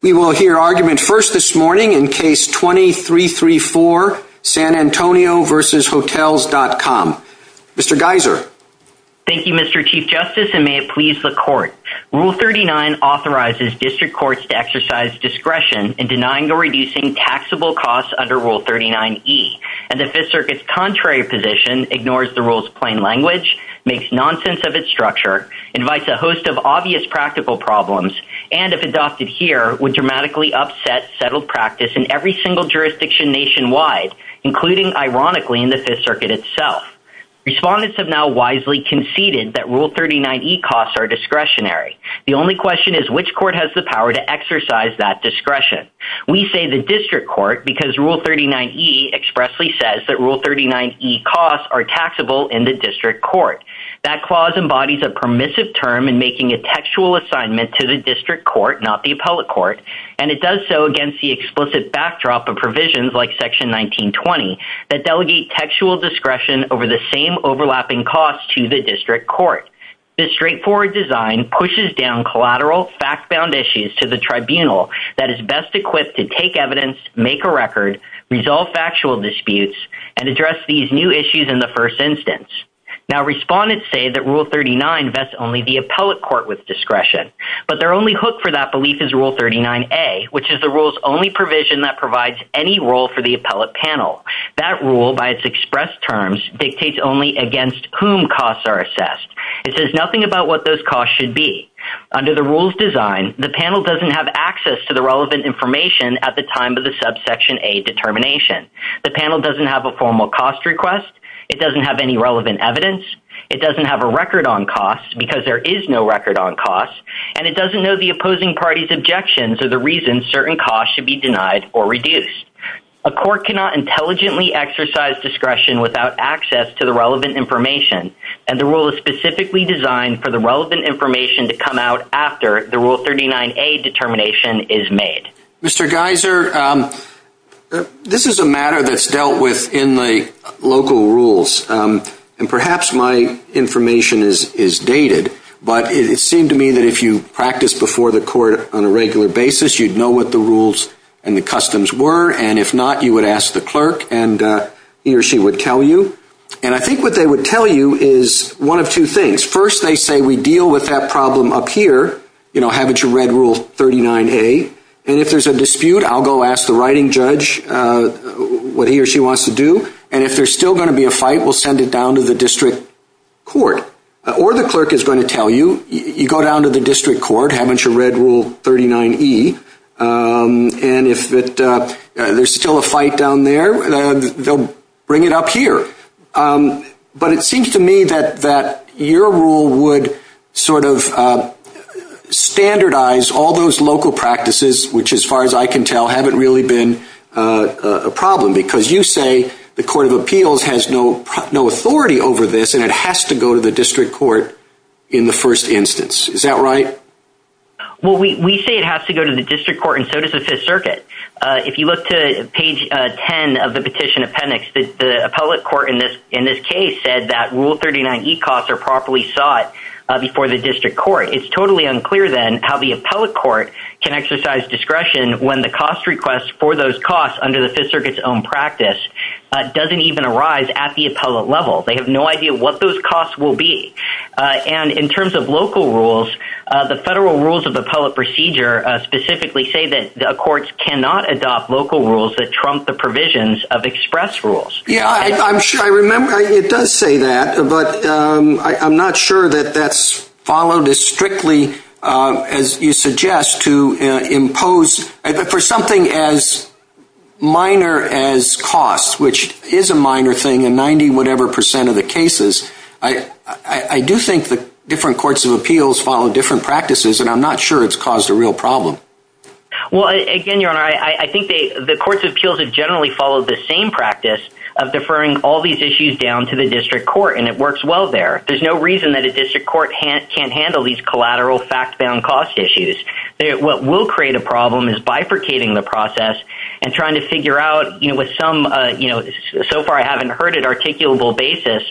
We will hear argument first this morning in case 2334, San Antonio v. Hotels.com. Mr. Geiser. Thank you, Mr. Chief Justice, and may it please the Court. Rule 39 authorizes district courts to exercise discretion in denying or reducing taxable costs under Rule 39e. And the Fifth Circuit's contrary position ignores the rule's plain language, makes nonsense of its structure, invites a host of obvious practical problems, and if adopted here, would dramatically upset settled practice in every single jurisdiction nationwide, including, ironically, in the Fifth Circuit itself. Respondents have now wisely conceded that Rule 39e costs are discretionary. The only question is which court has the power to exercise that discretion. We say the district court because Rule 39e expressly says that Rule 39e costs are taxable in the district court. That clause embodies a permissive term in making a textual assignment to the district court, not the appellate court, and it does so against the explicit backdrop of provisions like Section 1920 that delegate textual discretion over the same overlapping costs to the district court. This straightforward design pushes down collateral, fact-bound issues to the tribunal that is best equipped to take evidence, make a record, resolve factual disputes, and address these new issues in the first instance. Now, respondents say that Rule 39 vests only the appellate court with discretion, but their only hook for that belief is Rule 39a, which is the rule's only provision that provides any role for the appellate panel. That rule, by its express terms, dictates only against whom costs are assessed. It says nothing about what those costs should be. Under the rule's design, the panel doesn't have access to the relevant information at the time of the subsection a determination. The panel doesn't have a formal cost request. It doesn't have any relevant evidence. It doesn't have a record on costs because there is no record on costs, and it doesn't know the opposing party's objections or the reasons certain costs should be denied or reduced. A court cannot intelligently exercise discretion without access to the relevant information, and the rule is specifically designed for the relevant information to come out after the Rule 39a determination is made. Mr. Geiser, this is a matter that's dealt with in the local rules, and perhaps my information is dated, but it seemed to me that if you practiced before the court on a regular basis, you'd know what the rules and the customs were, and if not, you would ask the clerk, and he or she would tell you. And I think what they would tell you is one of two things. First, they say, we deal with that problem up here. You know, haven't you read Rule 39a? And if there's a dispute, I'll go ask the writing judge what he or she wants to do, and if there's still going to be a fight, we'll send it down to the district court. Or the clerk is going to tell you, you go down to the district court, haven't you read Rule 39e? And if there's still a fight down there, they'll bring it up here. But it seems to me that your rule would sort of standardize all those local practices, which as far as I can tell, haven't really been a problem, because you say the Court of Appeals has no authority over this, and it has to go to the district court in the first instance. Is that right? Well, we say it has to go to the district court, and so does the Fifth Circuit. If you look to page 10 of the petition appendix, the appellate court in this case said that Rule 39e costs are properly sought before the district court. It's totally unclear, then, how the appellate court can exercise discretion when the cost request for those costs under the Fifth Circuit's own practice doesn't even arise at the appellate level. They have no idea what those costs will be. And in terms of local rules, the federal rules of appellate procedure specifically say that courts cannot adopt local rules that trump the provisions of express rules. Yeah, I'm sure I remember it does say that, but I'm not sure that that's followed as strictly as you suggest to impose. For something as minor as costs, which is a minor thing in 90-whatever percent of the cases, I do think that different courts of appeals follow different practices, and I'm not sure it's caused a real problem. Well, again, Your Honor, I think the courts of appeals have generally followed the same practice of deferring all these issues down to the district court, and it works well there. There's no reason that a district court can't handle these collateral fact-bound cost issues. What will create a problem is bifurcating the process and trying to figure out with some, so far I haven't heard it, articulable basis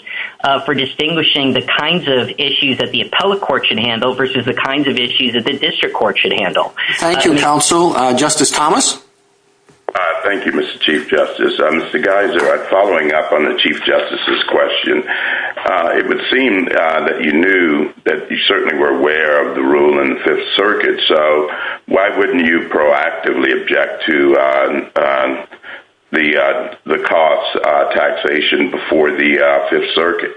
for distinguishing the kinds of issues that the appellate court should handle versus the kinds of issues that the district court should handle. Thank you, counsel. Justice Thomas? Thank you, Mr. Chief Justice. Mr. Geiser, following up on the Chief Justice's question, it would seem that you knew that you certainly were aware of the rule in the Fifth Circuit, so why wouldn't you proactively object to the cost taxation before the Fifth Circuit?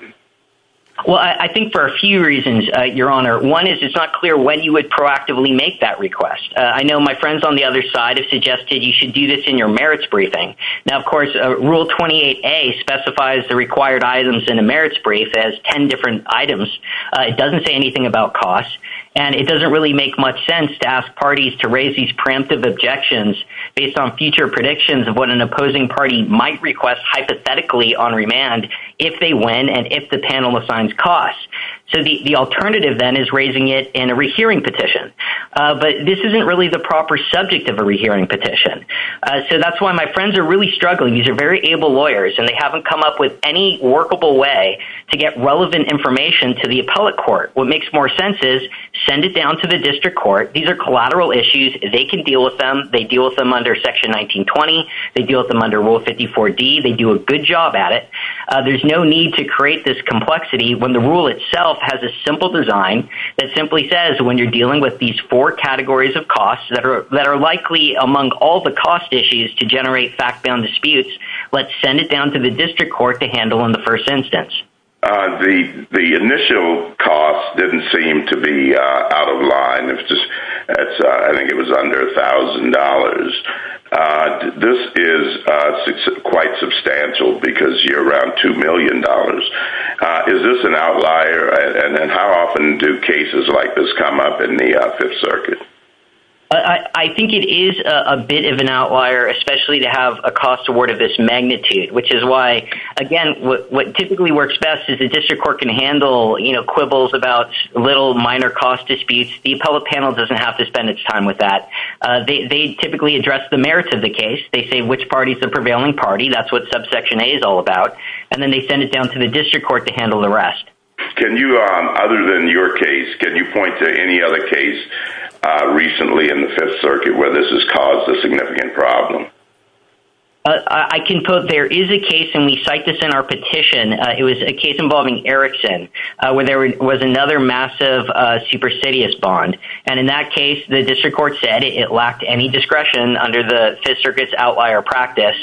Well, I think for a few reasons, Your Honor. One is it's not clear when you would proactively make that request. I know my friends on the other side have suggested you should do this in your merits briefing. Now, of course, Rule 28A specifies the required items in a merits brief as 10 different items. It doesn't say anything about cost, and it doesn't really make much sense to ask parties to raise these preemptive objections based on future predictions of what an opposing party might request hypothetically on remand if they win and if the panel assigns costs. So the alternative, then, is raising it in a rehearing petition. But this isn't really the proper subject of a rehearing petition. So that's why my friends are really struggling. These are very able lawyers, and they haven't come up with any workable way to get relevant information to the appellate court. What makes more sense is send it down to the district court. These are collateral issues. They can deal with them. They deal with them under Section 1920. They deal with them under Rule 54D. They do a good job at it. There's no need to create this complexity when the rule itself has a simple design that simply says when you're dealing with these four categories of costs that are likely among all the cost issues to generate fact-bound disputes, let's send it down to the district court to handle in the first instance. The initial cost didn't seem to be out of line. It was just... I think it was under $1,000. This is quite substantial because you're around $2 million. Is this an outlier? And how often do cases like this come up in the Fifth Circuit? I think it is a bit of an outlier, especially to have a cost award of this magnitude, which is why, again, what typically works best is the district court can handle quibbles about little minor cost disputes. The appellate panel doesn't have to spend its time with that. They typically address the merits of the case. They say which party is the prevailing party. That's what subsection A is all about. And then they send it down to the district court to handle the rest. Can you, other than your case, can you point to any other case recently in the Fifth Circuit where this has caused a significant problem? I can put there is a case, and we cite this in our petition. It was a case involving Erickson where there was another massive superstitious bond. And in that case, the district court said it lacked any discretion under the Fifth Circuit's outlier practice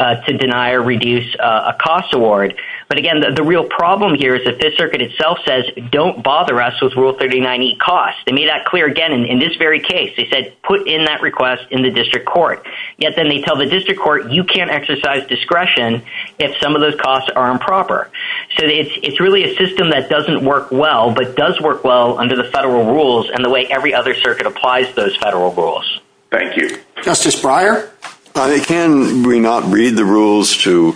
to deny or reduce a cost award. But again, the real problem here is the Fifth Circuit itself says, don't bother us with Rule 39E costs. They made that clear again in this very case. They said, put in that request in the district court. Yet then they tell the district court, you can't exercise discretion if some of those costs are improper. So it's really a system that doesn't work well, but does work well under the federal rules. And the way every other circuit applies those federal rules. Thank you. Justice Breyer? Can we not read the rules to...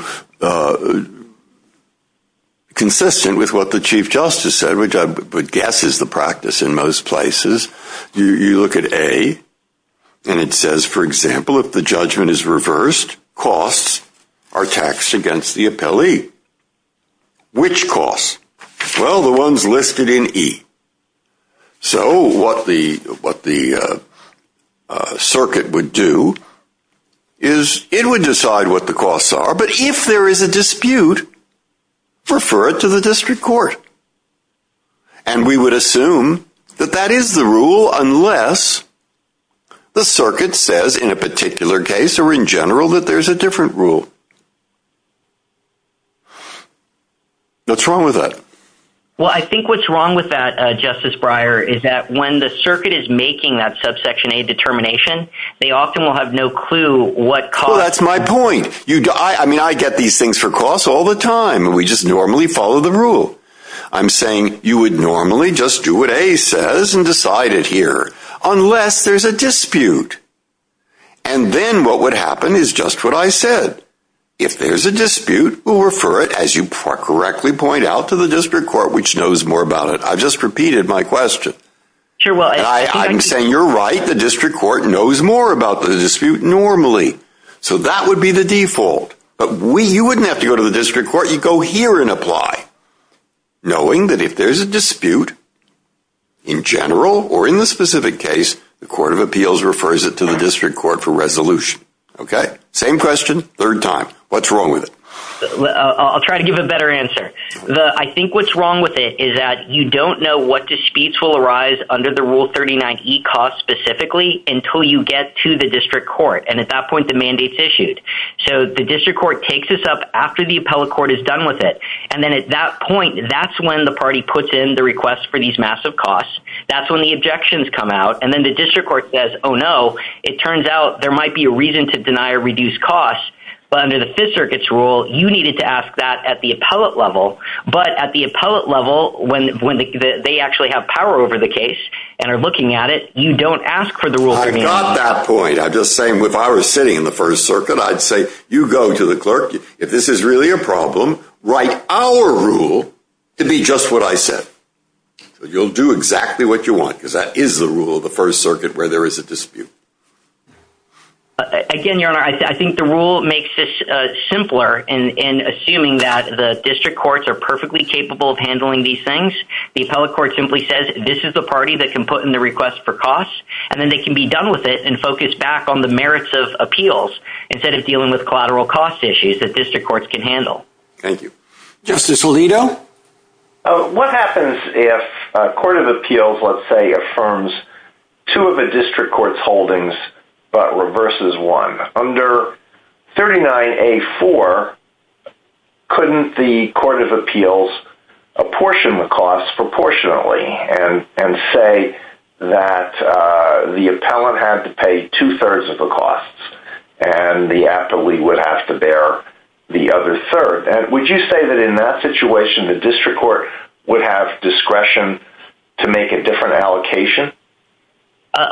..consistent with what the Chief Justice said, which I would guess is the practice in most places? You look at A, and it says, for example, if the judgment is reversed, costs are taxed against the appellee. Which costs? Well, the ones listed in E. So what the circuit would do is it would decide what the costs are, but if there is a dispute, refer it to the district court. And we would assume that that is the rule, unless the circuit says in a particular case, or in general, that there's a different rule. What's wrong with that? Well, I think what's wrong with that, Justice Breyer, is that when the circuit is making that subsection A determination, they often will have no clue what costs... Well, that's my point. I mean, I get these things for costs all the time, and we just normally follow the rule. I'm saying you would normally just do what A says and decide it here, unless there's a dispute. And then what would happen is just what I said. If there's a dispute, we'll refer it, as you correctly point out, to the district court, which knows more about it. I've just repeated my question. I'm saying you're right. The district court knows more about the dispute normally. So that would be the default. But you wouldn't have to go to the district court. You'd go here and apply, knowing that if there's a dispute in general or in the specific case, the court of appeals refers it to the district court for resolution. Okay? Same question, third time. What's wrong with it? I'll try to give a better answer. I think what's wrong with it is that you don't know what disputes will arise under the Rule 39E cost specifically until you get to the district court. And at that point, the mandate's issued. So the district court takes this up after the appellate court is done with it. And then at that point, that's when the party puts in the request for these massive costs. That's when the objections come out. And then the district court says, oh, no, it turns out there might be a reason to deny or reduce costs. But under the Fifth Circuit's rule, you needed to ask that at the appellate level. But at the appellate level, when they actually have power over the case and are looking at it, you don't ask for the Rule 39E. I got that point. I'm just saying, if I were sitting in the First Circuit, I'd say, you go to the clerk. If this is really a problem, write our rule to be just what I said. You'll do exactly what you want, because that is the rule of the First Circuit where there is a dispute. Again, Your Honor, I think the rule makes this simpler in assuming that the district courts are perfectly capable of handling these things. The appellate court simply says, this is the party that can put in the request for costs, and then they can be done with it and focus back on the merits of appeals instead of dealing with collateral cost issues that district courts can handle. Thank you. Justice Alito? What happens if a court of appeals, let's say, affirms two of a district court's holdings, but reverses one? Under 39A4, couldn't the court of appeals apportion the costs proportionately and say that the appellant had to pay two-thirds of the costs, and the appellee would have to bear the other third? Would you say that in that situation, the district court would have discretion to make a different allocation?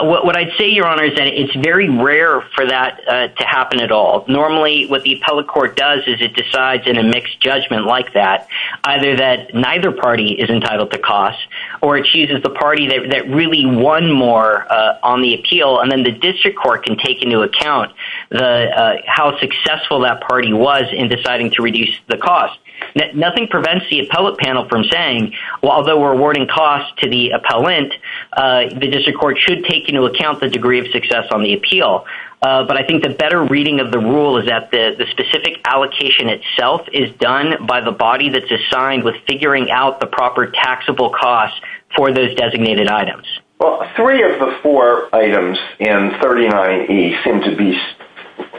What I'd say, Your Honor, is that it's very rare for that to happen at all. Normally, what the appellate court does is it decides in a mixed judgment like that, either that neither party is entitled to cost, or it chooses the party that really won more on the appeal, and then the district court can take into account how successful that party was in deciding to reduce the cost. Nothing prevents the appellate panel from saying, although we're awarding costs to the appellant, the district court should take into account the degree of success on the appeal. But I think the better reading of the rule is that the specific allocation itself is done by the body that's assigned with figuring out the proper taxable costs for those designated items. Well, three of the four items in 39E seem to be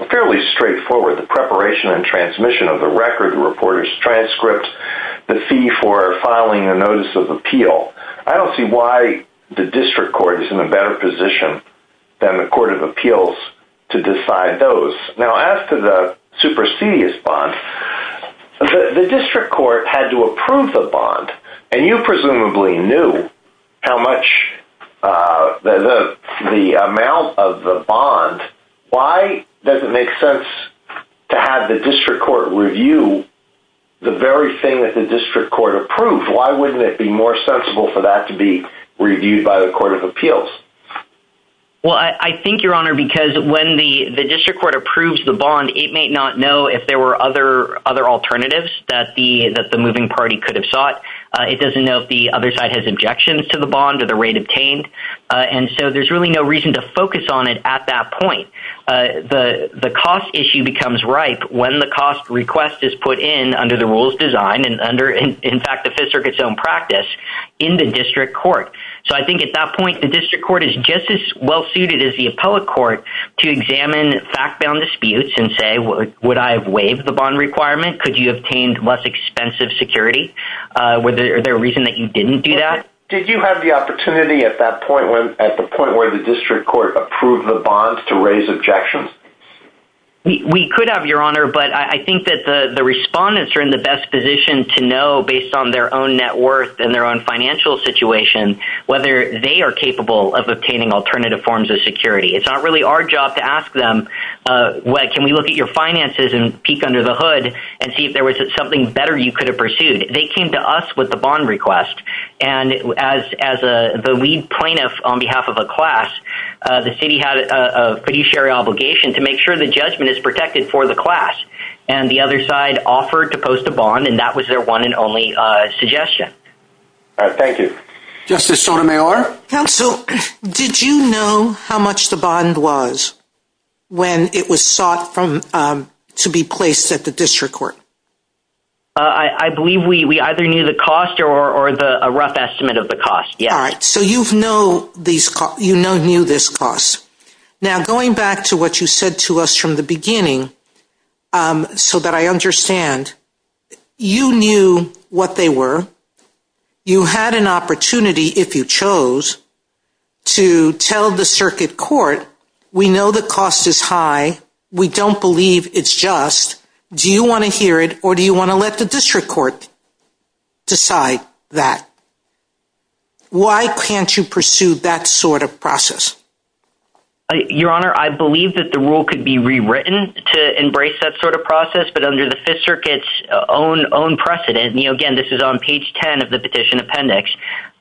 fairly straightforward. The preparation and transmission of the record, the reporter's transcript, the fee for filing a notice of appeal. I don't see why the district court is in a better position than the Court of Appeals to decide those. Now, as to the supersedious bond, the district court had to approve the bond, and you presumably knew how much, the amount of the bond. Why does it make sense to have the district court review the very thing that the district court approved? Why wouldn't it be more sensible for that to be reviewed by the Court of Appeals? Well, I think, Your Honor, because when the district court approves the bond, it may not know if there were other alternatives that the moving party could have sought. It doesn't know if the other side has objections to the bond or the rate obtained. And so there's really no reason to focus on it at that point. The cost issue becomes ripe when the cost request is put in under the rules design and under, in fact, the Fifth Circuit's own practice in the district court. So I think at that point, the district court is just as well-suited as the appellate court to examine fact-bound disputes and say, would I have waived the bond requirement? Could you have obtained less expensive security? Were there a reason that you didn't do that? Did you have the opportunity at that point, at the point where the district court approved the bonds to raise objections? We could have, Your Honor, but I think that the respondents are in the best position to know, based on their own net worth and their own financial situation, whether they are capable of obtaining alternative forms of security. It's not really our job to ask them, can we look at your finances and peek under the hood and see if there was something better you could have pursued. They came to us with the bond request. And as the lead plaintiff on behalf of a class, the city had a pretty sherry obligation to make sure the judgment is protected for the class. And the other side offered to post a bond, and that was their one and only suggestion. All right, thank you. Justice Sotomayor? Counsel, did you know how much the bond was when it was sought to be placed at the district court? I believe we either knew the cost or a rough estimate of the cost, yes. All right, so you've known these costs, you knew this cost. Now, going back to what you said to us from the beginning, so that I understand, you knew what they were, you had an opportunity, if you chose, to tell the circuit court, we know the cost is high, we don't believe it's just, do you wanna hear it or do you wanna let the district court decide that? Why can't you pursue that sort of process? Your Honor, I believe that the rule could be rewritten to embrace that sort of process, but under the Fifth Circuit's own precedent, and again, this is on page 10 of the petition appendix,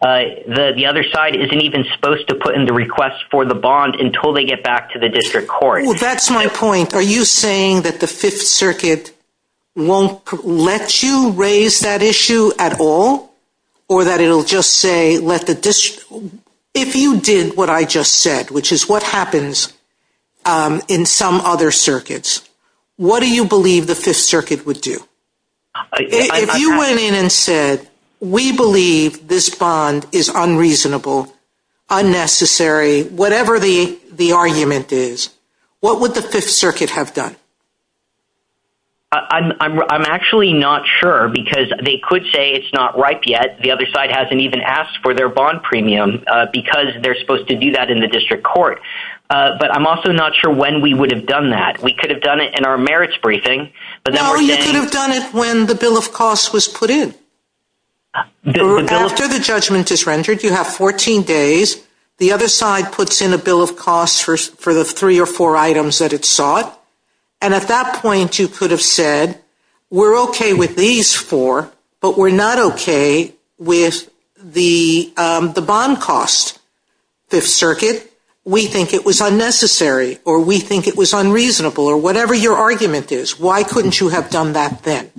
the other side isn't even supposed to put in the request for the bond until they get back to the district court. Well, that's my point. Are you saying that the Fifth Circuit won't let you raise that issue at all or that it'll just say, let the district, if you did what I just said, which is what happens in some other circuits, what do you believe the Fifth Circuit would do? If you went in and said, we believe this bond is unreasonable, unnecessary, whatever the argument is, what would the Fifth Circuit have done? I'm actually not sure because they could say it's not ripe yet. The other side hasn't even asked for their bond premium because they're supposed to do that in the district court, but I'm also not sure when we would have done that. We could have done it in our merits briefing, but then we're saying- No, you could have done it when the bill of costs was put in. After the judgment is rendered, you have 14 days, the other side puts in a bill of costs for the three or four items that it sought, and at that point, you could have said, we're okay with these four, but we're not okay with the bond cost. Fifth Circuit, we think it was unnecessary, or we think it was unreasonable, or whatever your argument is, why couldn't you have done that then?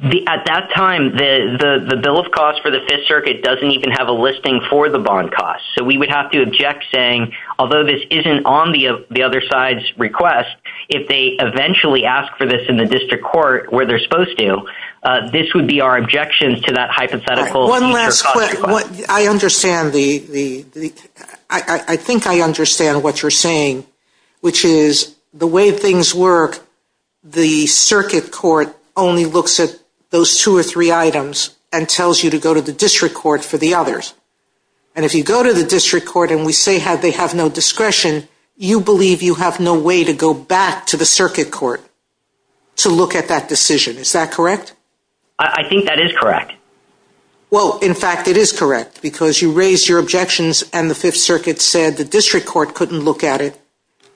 At that time, the bill of costs for the Fifth Circuit doesn't even have a listing for the bond costs. So we would have to object saying, although this isn't on the other side's request, if they eventually ask for this in the district court where they're supposed to, this would be our objection to that hypothetical- One last question, I think I understand what you're saying, which is the way things work, the circuit court only looks at those two or three items and tells you to go to the district court for the others. And if you go to the district court and we say they have no discretion, you believe you have no way to go back to the circuit court to look at that decision, is that correct? I think that is correct. Well, in fact, it is correct, because you raised your objections and the Fifth Circuit said the district court couldn't look at it,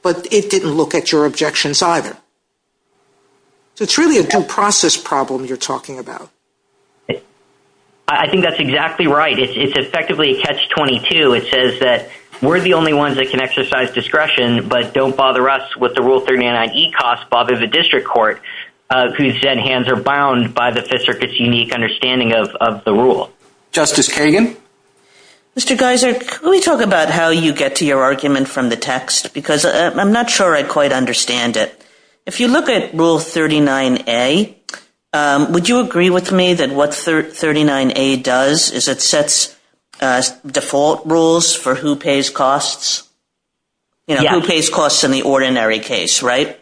but it didn't look at your objections either. So it's really a due process problem you're talking about. I think that's exactly right. It's effectively a catch 22. It says that we're the only ones that can exercise discretion, but don't bother us with the Rule 39E cost bothers the district court, who said hands are bound by the Fifth Circuit's unique understanding of the rule. Justice Kagan? Mr. Geiser, let me talk about how you get to your argument from the text, because I'm not sure I quite understand it. If you look at Rule 39A, would you agree with me that what 39A does is it sets default rules for who pays costs? Yeah. Who pays costs in the ordinary case, right?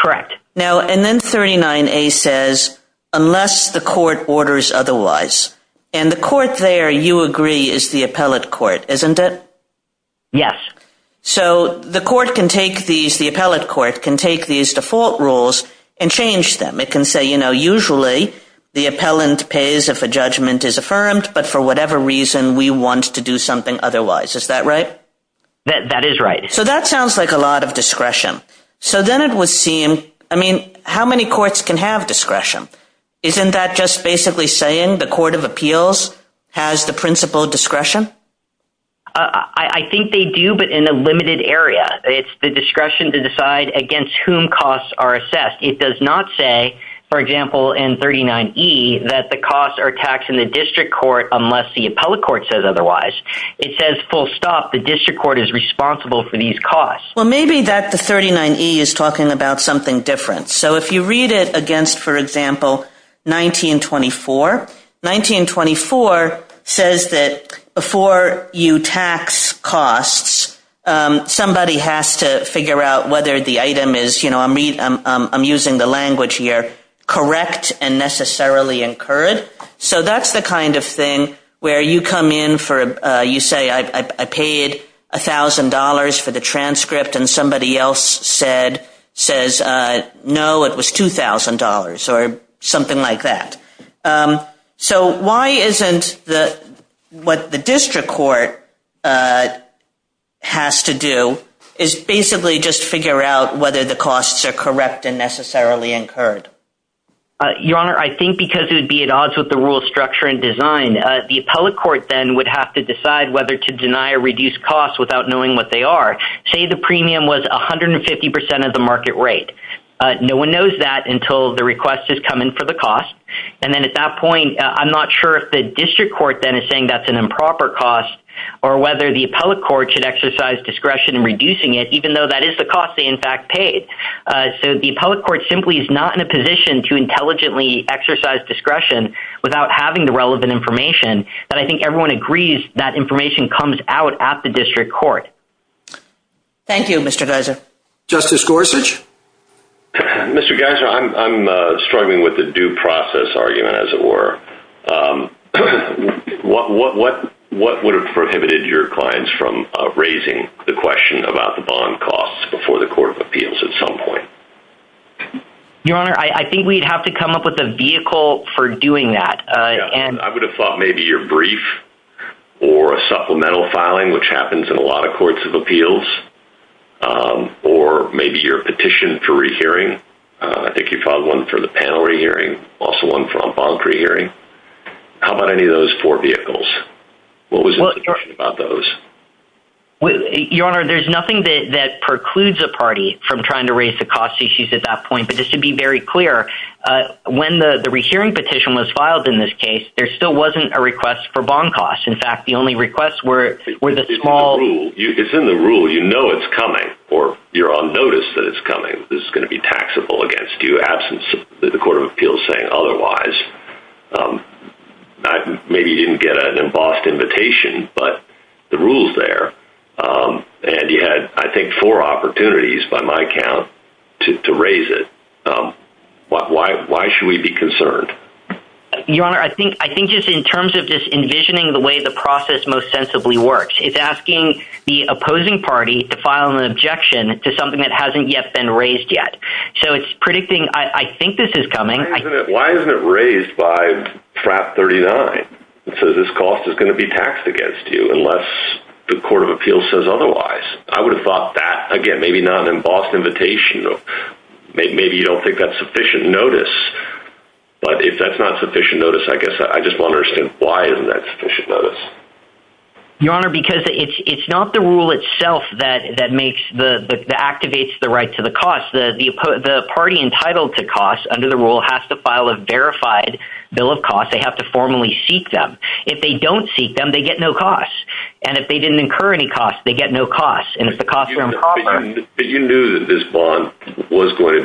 Correct. Now, and then 39A says, unless the court orders otherwise, and the court there, you agree, is the appellate court, isn't it? Yes. So the court can take these, the appellate court can take these default rules and change them. It can say, you know, the appellant pays if a judgment is affirmed, but for whatever reason, we want to do something otherwise. Is that right? That is right. So that sounds like a lot of discretion. So then it would seem, I mean, how many courts can have discretion? Isn't that just basically saying the Court of Appeals has the principal discretion? I think they do, but in a limited area. It's the discretion to decide against whom costs are assessed. It does not say, for example, in 39E, that the costs are taxed in the district court unless the appellate court says otherwise. It says, full stop, the district court is responsible for these costs. Well, maybe that the 39E is talking about something different. So if you read it against, for example, 1924, 1924 says that before you tax costs, somebody has to figure out whether the item is, I'm using the language here, correct and necessarily incurred. So that's the kind of thing where you come in for, you say, I paid $1,000 for the transcript and somebody else says, no, it was $2,000 or something like that. So why isn't what the district court has to do is basically just figure out whether the costs are correct and necessarily incurred? Your Honor, I think because it would be at odds with the rule structure and design, the appellate court then would have to decide whether to deny or reduce costs without knowing what they are. Say the premium was 150% of the market rate. No one knows that until the request is coming for the cost. And then at that point, I'm not sure if the district court then is saying that's an improper cost or whether the appellate court should exercise discretion in reducing it, even though that is the cost they in fact paid. So the appellate court simply is not in a position to intelligently exercise discretion without having the relevant information that I think everyone agrees that information comes out at the district court. Thank you, Mr. Geiser. Justice Gorsuch. Mr. Geiser, I'm struggling with the due process argument as it were. What would have prohibited your clients from raising the question about the bond costs before the court of appeals at some point? Your Honor, I think we'd have to come up with a vehicle for doing that. I would have thought maybe your brief or a supplemental filing, which happens in a lot of courts of appeals, or maybe your petition for re-hearing. I think you filed one for the panel re-hearing, also one from bond re-hearing. How about any of those four vehicles? What was the discussion about those? Your Honor, there's nothing that precludes a party from trying to raise the cost issues at that point, but this should be very clear. When the re-hearing petition was filed in this case, there still wasn't a request for bond costs. In fact, the only requests were the small- It's in the rule. You know it's coming or you're on notice that it's coming. This is gonna be taxable against you absent the court of appeals saying otherwise. Maybe you didn't get an embossed invitation, but the rule's there. And you had, I think, four opportunities by my count to raise it. Why should we be concerned? Your Honor, I think just in terms of just envisioning the way the process most sensibly works, it's asking the opposing party to file an objection to something that hasn't yet been raised yet. So it's predicting, I think this is coming. Why isn't it raised? It's raised by trap 39. So this cost is gonna be taxed against you unless the court of appeals says otherwise. I would have thought that, again, maybe not an embossed invitation. Maybe you don't think that's sufficient notice, but if that's not sufficient notice, I guess I just wanna understand why isn't that sufficient notice? Your Honor, because it's not the rule itself that activates the right to the cost. The party entitled to cost under the rule has to file a verified bill of cost. They have to formally seek them. If they don't seek them, they get no cost. And if they didn't incur any costs, they get no cost. And if the costs are improper- You knew that this bond was going to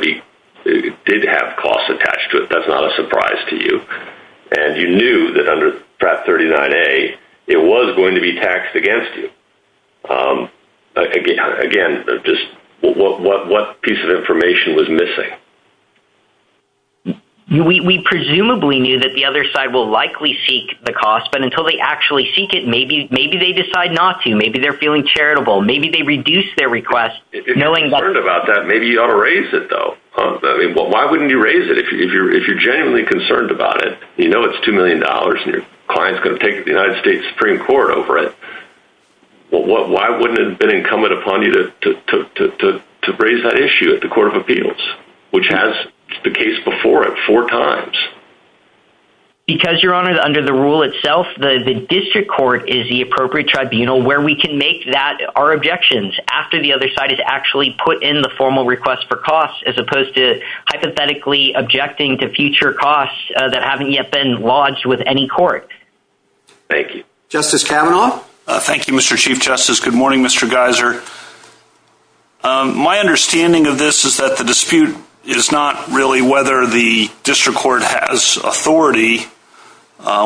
be, did have costs attached to it. That's not a surprise to you. And you knew that under trap 39A, it was going to be taxed against you. Again, just what piece of information was missing? We presumably knew that the other side will likely seek the cost, but until they actually seek it, maybe they decide not to. Maybe they're feeling charitable. Maybe they reduce their request, knowing that- If you're concerned about that, maybe you ought to raise it though. I mean, why wouldn't you raise it if you're genuinely concerned about it? You know, it's $2 million and your client's gonna take the United States Supreme Court over it. Well, why wouldn't it have been incumbent upon you to raise that issue at the Court of Appeals? Which has the case before it four times. Because Your Honor, under the rule itself, the district court is the appropriate tribunal where we can make that our objections after the other side has actually put in the formal request for costs, as opposed to hypothetically objecting to future costs that haven't yet been lodged with any court. Thank you. Justice Kavanaugh. Thank you, Mr. Chief Justice. Good morning, Mr. Geiser. My understanding of this is that the dispute is not really whether the district court has authority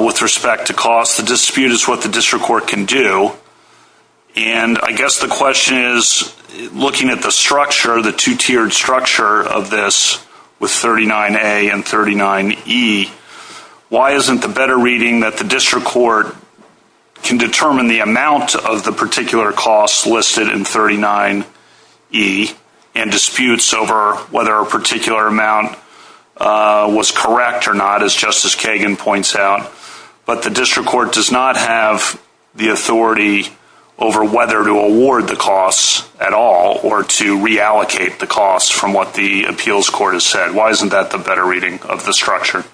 with respect to costs. The dispute is what the district court can do. And I guess the question is, looking at the structure, the two-tiered structure of this with 39A and 39E, why isn't the better reading that the district court can determine the amount of the particular costs listed in 39E and disputes over whether a particular amount was correct or not, as Justice Kagan points out? But the district court does not have the authority over whether to award the costs at all or to reallocate the costs from what the appeals court has said. Why isn't that the better reading of the structure?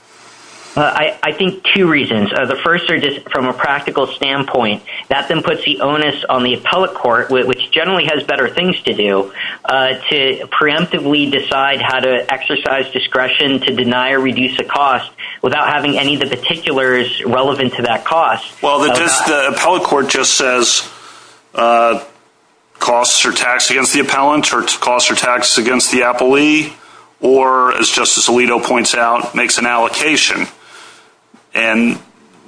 I think two reasons. The first is from a practical standpoint, that then puts the onus on the appellate court, which generally has better things to do, to preemptively decide how to exercise discretion to deny or reduce a cost without having any of the particulars relevant to that cost. Well, the appellate court just says costs are taxed against the appellant or costs are taxed against the appellee, or, as Justice Alito points out, makes an allocation. And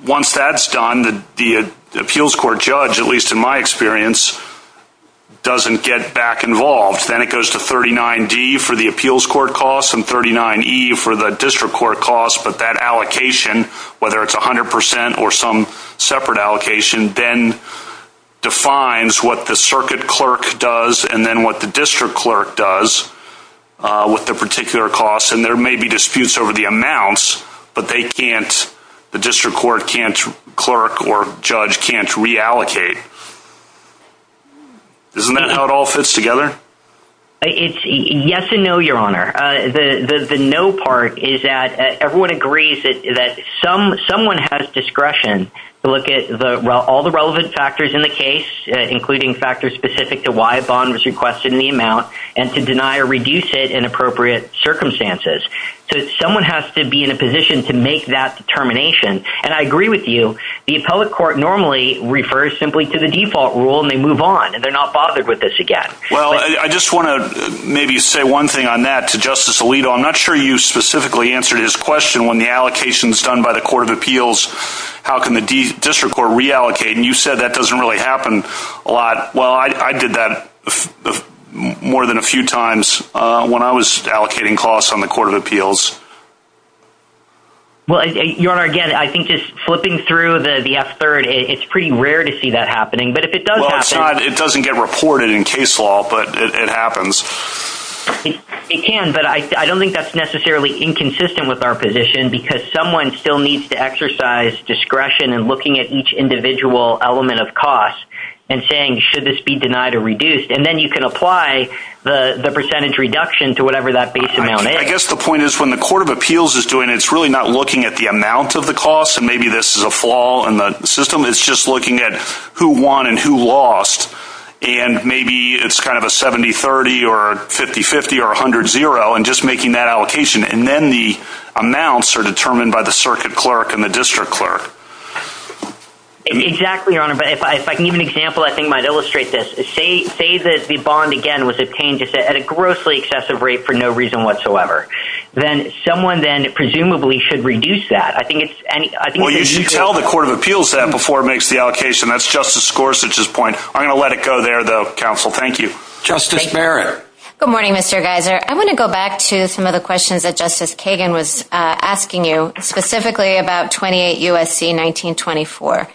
once that's done, the appeals court judge, at least in my experience, doesn't get back involved. Then it goes to 39D for the appeals court costs and 39E for the district court costs. But that allocation, whether it's 100% or some separate allocation, then defines what the circuit clerk does and then what the district clerk does with the particular costs. And there may be disputes over the amounts, but the district court can't clerk or judge can't reallocate. Isn't that how it all fits together? It's yes and no, Your Honor. The no part is that everyone agrees that someone has discretion to look at all the relevant factors in the case, including factors specific to why a bond was requested in the amount and to deny or reduce it in appropriate circumstances. So someone has to be in a position to make that determination. And I agree with you. The appellate court normally refers simply to the default rule and they move on and they're not bothered with this again. Well, I just wanna maybe say one thing on that to Justice Alito. I'm not sure you specifically answered his question when the allocation is done by the court of appeals, how can the district court reallocate? And you said that doesn't really happen a lot. Well, I did that more than a few times when I was allocating costs on the court of appeals. Well, Your Honor, again, I think just flipping through the F-3rd, it's pretty rare to see that happening. But if it does happen- Well, it doesn't get reported in case law, but it happens. It can, but I don't think that's necessarily inconsistent with our position because someone still needs to exercise discretion and looking at each individual element of costs and saying, should this be denied or reduced? to whatever that base amount is. I guess the point is when the court of appeals is doing it, it's really not looking at the amount of the costs and maybe this is a flaw in the system. It's just looking at who won and who lost. And maybe it's kind of a 70-30 or 50-50 or 100-0 and just making that allocation. And then the amounts are determined by the circuit clerk and the district clerk. Exactly, Your Honor. But if I can give you an example, I think it might illustrate this. Say that the bond again, was obtained at a grossly excessive rate for no reason whatsoever. Then someone then presumably should reduce that. I think it's- Well, you tell the court of appeals that before it makes the allocation. That's Justice Gorsuch's point. I'm gonna let it go there though, counsel. Thank you. Justice Merritt. Good morning, Mr. Geiser. I wanna go back to some of the questions that Justice Kagan was asking you specifically about 28 USC 1924.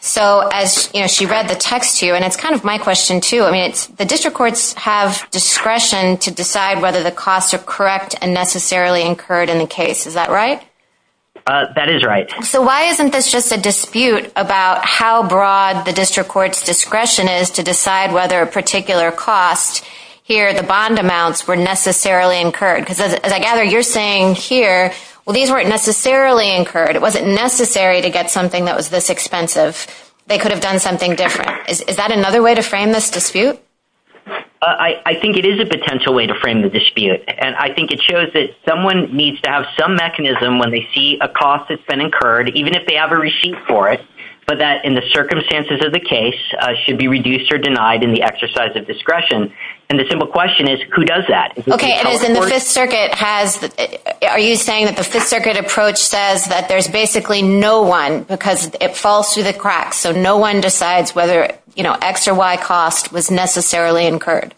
So as she read the text to you and it's kind of my question too. I mean, the district courts have discretion to decide whether the costs are correct and necessarily incurred in the case. Is that right? That is right. So why isn't this just a dispute about how broad the district court's discretion is to decide whether a particular cost here the bond amounts were necessarily incurred? Because as I gather you're saying here, well, these weren't necessarily incurred. It wasn't necessary to get something that was this expensive. They could have done something different. Is that another way to frame this dispute? I think it is a potential way to frame the dispute. And I think it shows that someone needs to have some mechanism when they see a cost that's been incurred, even if they have a receipt for it, but that in the circumstances of the case should be reduced or denied in the exercise of discretion. And the simple question is who does that? Okay. And the Fifth Circuit has, are you saying that the Fifth Circuit approach says that there's basically no one because it falls through the cracks. So no one decides whether X or Y cost was necessarily incurred.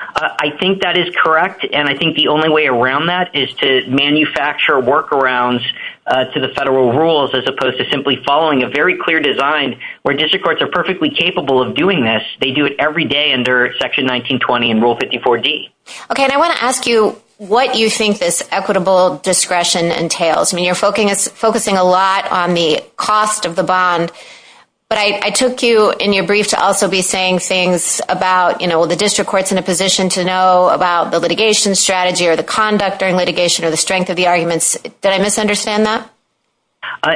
I think that is correct. And I think the only way around that is to manufacture workarounds to the federal rules as opposed to simply following a very clear design where district courts are perfectly capable of doing this. They do it every day under section 1920 and rule 54D. Okay. And I want to ask you what you think this equitable discretion entails. I mean, you're focusing a lot on the cost of the bond, but I took you in your brief to also be saying things about, the district court's in a position to know about the litigation strategy or the conduct during litigation or the strength of the arguments. Did I misunderstand that?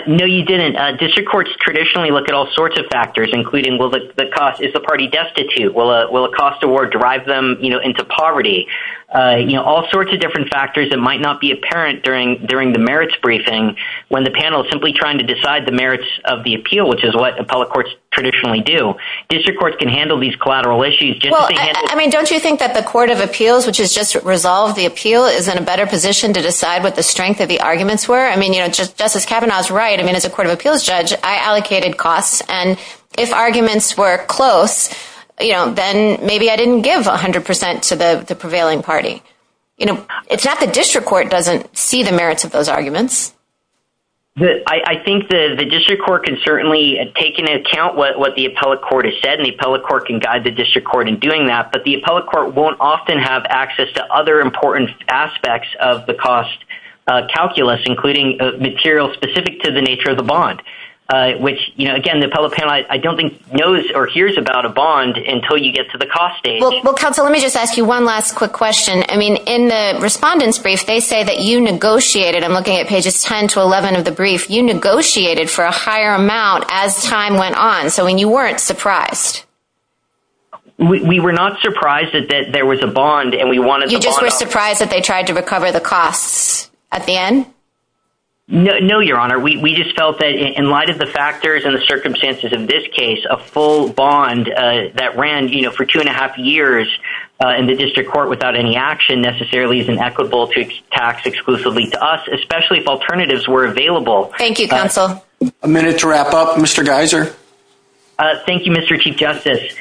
No, you didn't. District courts traditionally look at all sorts of factors, including will the cost, is the party destitute? Will a cost award drive them into poverty? All sorts of different factors that might not be apparent during the merits briefing when the panel is simply trying to decide the merits of the appeal, which is what the public courts traditionally do. District courts can handle these collateral issues. I mean, don't you think that the court of appeals, which has just resolved the appeal, is in a better position to decide what the strength of the arguments were? I mean, you know, Justice Kavanaugh's right. I mean, as a court of appeals judge, I allocated costs. And if arguments were close, you know, then maybe I didn't give 100% to the prevailing party. You know, it's not the district court doesn't see the merits of those arguments. I think the district court can certainly take into account what the appellate court has said, and the appellate court can guide the district court in doing that, but the appellate court won't often have access to other important aspects of the cost calculus, including material specific to the nature of the bond, which, you know, again, the appellate panel, I don't think knows or hears about a bond until you get to the cost stage. Well, counsel, let me just ask you one last quick question. I mean, in the respondents' brief, they say that you negotiated, I'm looking at pages 10 to 11 of the brief, you negotiated for a higher amount as time went on. So, I mean, you weren't surprised. We were not surprised that there was a bond and we wanted to bond out. You just were surprised that they tried to recover the costs at the end? No, your honor. We just felt that in light of the factors and the circumstances in this case, a full bond that ran, you know, for two and a half years in the district court without any action necessarily is inequitable to tax exclusively to us especially if alternatives were available. Thank you, counsel. A minute to wrap up, Mr. Geiser. Thank you, Mr. Chief Justice.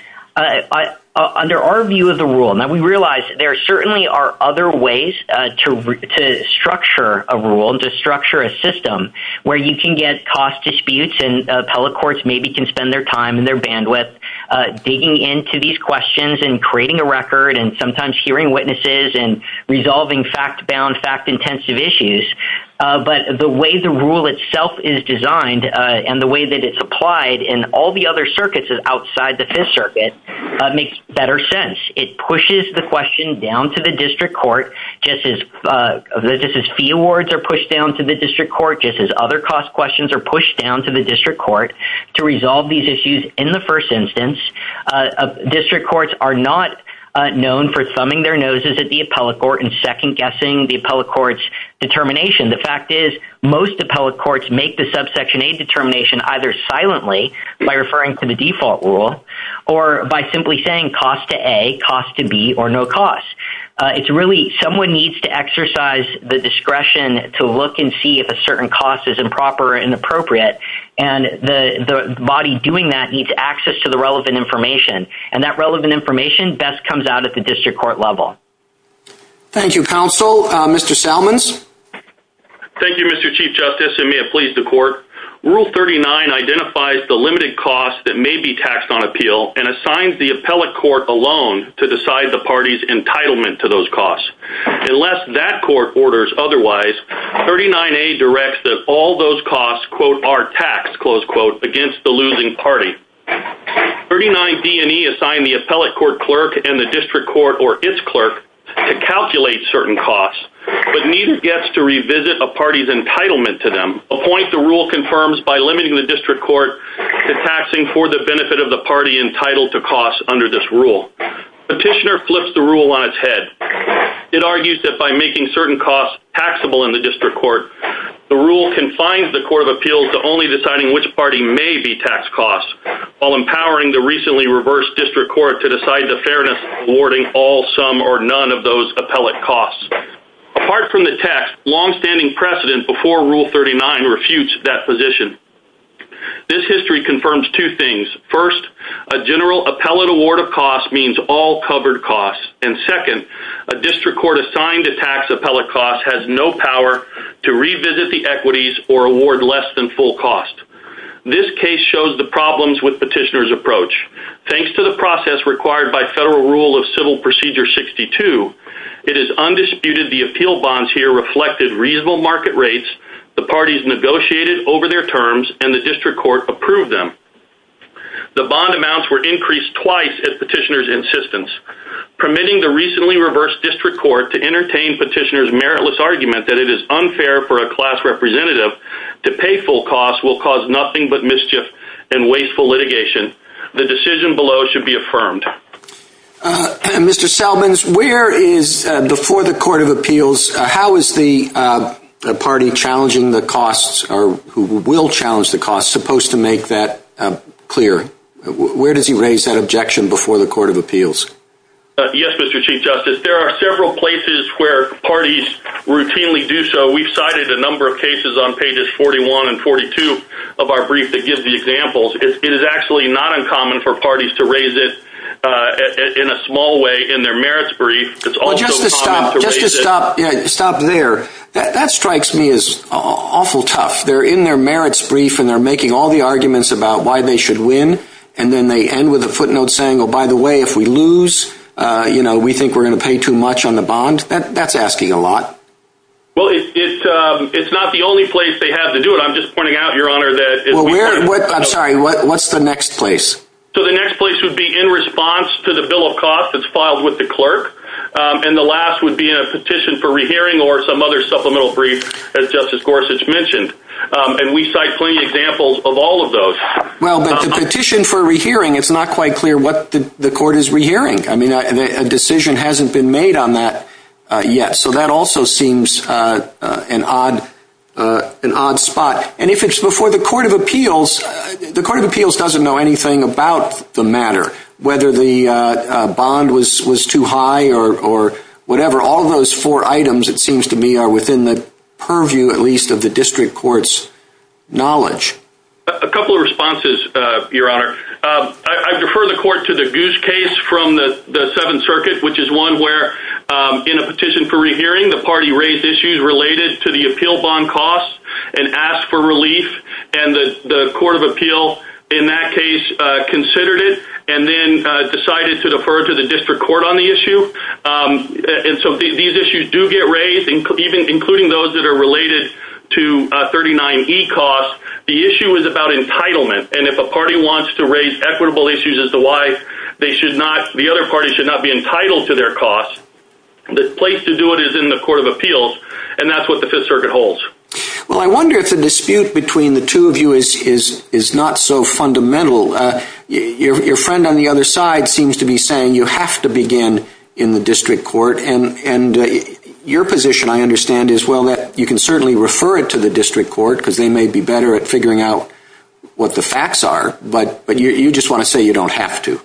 Under our view of the rule, now we realize there certainly are other ways to structure a rule and to structure a system where you can get cost disputes and appellate courts maybe can spend their time and their bandwidth digging into these questions and creating a record and sometimes hearing witnesses and resolving fact-bound, fact-intensive issues. But the way the rule itself is designed and the way that it's applied in all the other circuits outside the Fifth Circuit makes better sense. It pushes the question down to the district court just as fee awards are pushed down to the district court, just as other cost questions are pushed down to the district court to resolve these issues in the first instance. District courts are not known for thumbing their noses at the appellate court and second-guessing the appellate court's determination. The fact is most appellate courts make the subsection A determination either silently by referring to the default rule or by simply saying cost to A, cost to B or no cost. It's really someone needs to exercise the discretion to look and see if a certain cost is improper or inappropriate and the body doing that needs access to the relevant information. And that relevant information best comes out at the district court level. Thank you, counsel. Mr. Salmons. Thank you, Mr. Chief Justice and may it please the court. Rule 39 identifies the limited costs that may be taxed on appeal and assigns the appellate court alone to decide the party's entitlement to those costs. Unless that court orders otherwise, 39A directs that all those costs are taxed, close quote, against the losing party. 39D and E assign the appellate court clerk and the district court or its clerk to calculate certain costs, but neither gets to revisit a party's entitlement to them. A point the rule confirms by limiting the district court to taxing for the benefit of the party entitled to costs under this rule. Petitioner flips the rule on its head. It argues that by making certain costs taxable in the district court, the rule confines the court of appeals to only deciding which party may be taxed costs while empowering the recently reversed district court to decide the fairness of awarding all, some or none of those appellate costs. Apart from the tax, longstanding precedent before Rule 39 refutes that position. This history confirms two things. First, a general appellate award of costs means all covered costs. And second, a district court assigned to tax appellate costs has no power to revisit the equities or award less than full cost. This case shows the problems with petitioner's approach. Thanks to the process required by Federal Rule of Civil Procedure 62, it is undisputed the appeal bonds here reflected reasonable market rates, the parties negotiated over their terms and the district court approved them. The bond amounts were increased twice at petitioner's insistence, permitting the recently reversed district court to entertain petitioner's meritless argument that it is unfair for a class representative to pay full costs will cause nothing but mischief and wasteful litigation. The decision below should be affirmed. Mr. Salmons, where is, before the Court of Appeals, how is the party challenging the costs or who will challenge the costs supposed to make that clear? Where does he raise that objection before the Court of Appeals? Yes, Mr. Chief Justice, there are several places where parties routinely do so. We've cited a number of cases on pages 41 and 42 of our brief that gives the examples. It is actually not uncommon for parties to raise it in a small way in their merits brief. It's also common to raise it- Just to stop, just to stop, yeah, stop there. That strikes me as awful tough. They're in their merits brief and they're making all the arguments about why they should win and then they end with a footnote saying, oh, by the way, if we lose, you know, we think we're gonna pay too much on the bond. That's asking a lot. Well, it's not the only place they have to do it. I'm just pointing out, Your Honor, that- I'm sorry, what's the next place? So the next place would be in response to the bill of costs that's filed with the clerk and the last would be a petition for rehearing or some other supplemental brief as Justice Gorsuch mentioned. And we cite plenty of examples of all of those. Well, but the petition for rehearing, it's not quite clear what the court is rehearing. I mean, a decision hasn't been made on that yet. So that also seems an odd spot. And if it's before the Court of Appeals, the Court of Appeals doesn't know anything about the matter, whether the bond was too high or whatever. All of those four items, it seems to me, are within the purview, at least, of the district court's knowledge. A couple of responses, Your Honor. I defer the court to the Goose case from the Seventh Circuit, which is one where, in a petition for rehearing, the party raised issues related to the appeal bond costs and asked for relief. And the Court of Appeals, in that case, considered it and then decided to defer to the district court on the issue. And so these issues do get raised, even including those that are related to 39E costs. The issue is about entitlement. And if a party wants to raise equitable issues as the wife, the other party should not be entitled to their costs. The place to do it is in the Court of Appeals, and that's what the Fifth Circuit holds. Well, I wonder if the dispute between the two of you is not so fundamental. Your friend on the other side seems to be saying you have to begin in the district court. And your position, I understand, is, well, that you can certainly refer it to the district court because they may be better at figuring out what the facts are, but you just want to say you don't have to.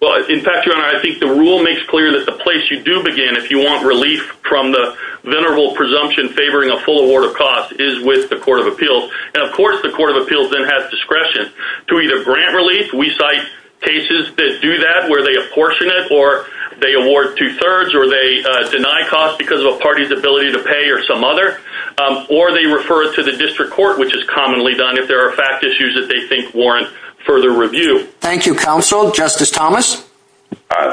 Well, in fact, Your Honor, I think the rule makes clear that the place you do begin if you want relief from the venerable presumption favoring a full award of costs is with the Court of Appeals. And of course, the Court of Appeals then has discretion to either grant relief. We cite cases that do that where they apportion it or they award two-thirds or they deny costs because of a party's ability to pay or some other, or they refer it to the district court, which is commonly done if there are fact issues that they think warrant further review. Thank you, counsel. Justice Thomas?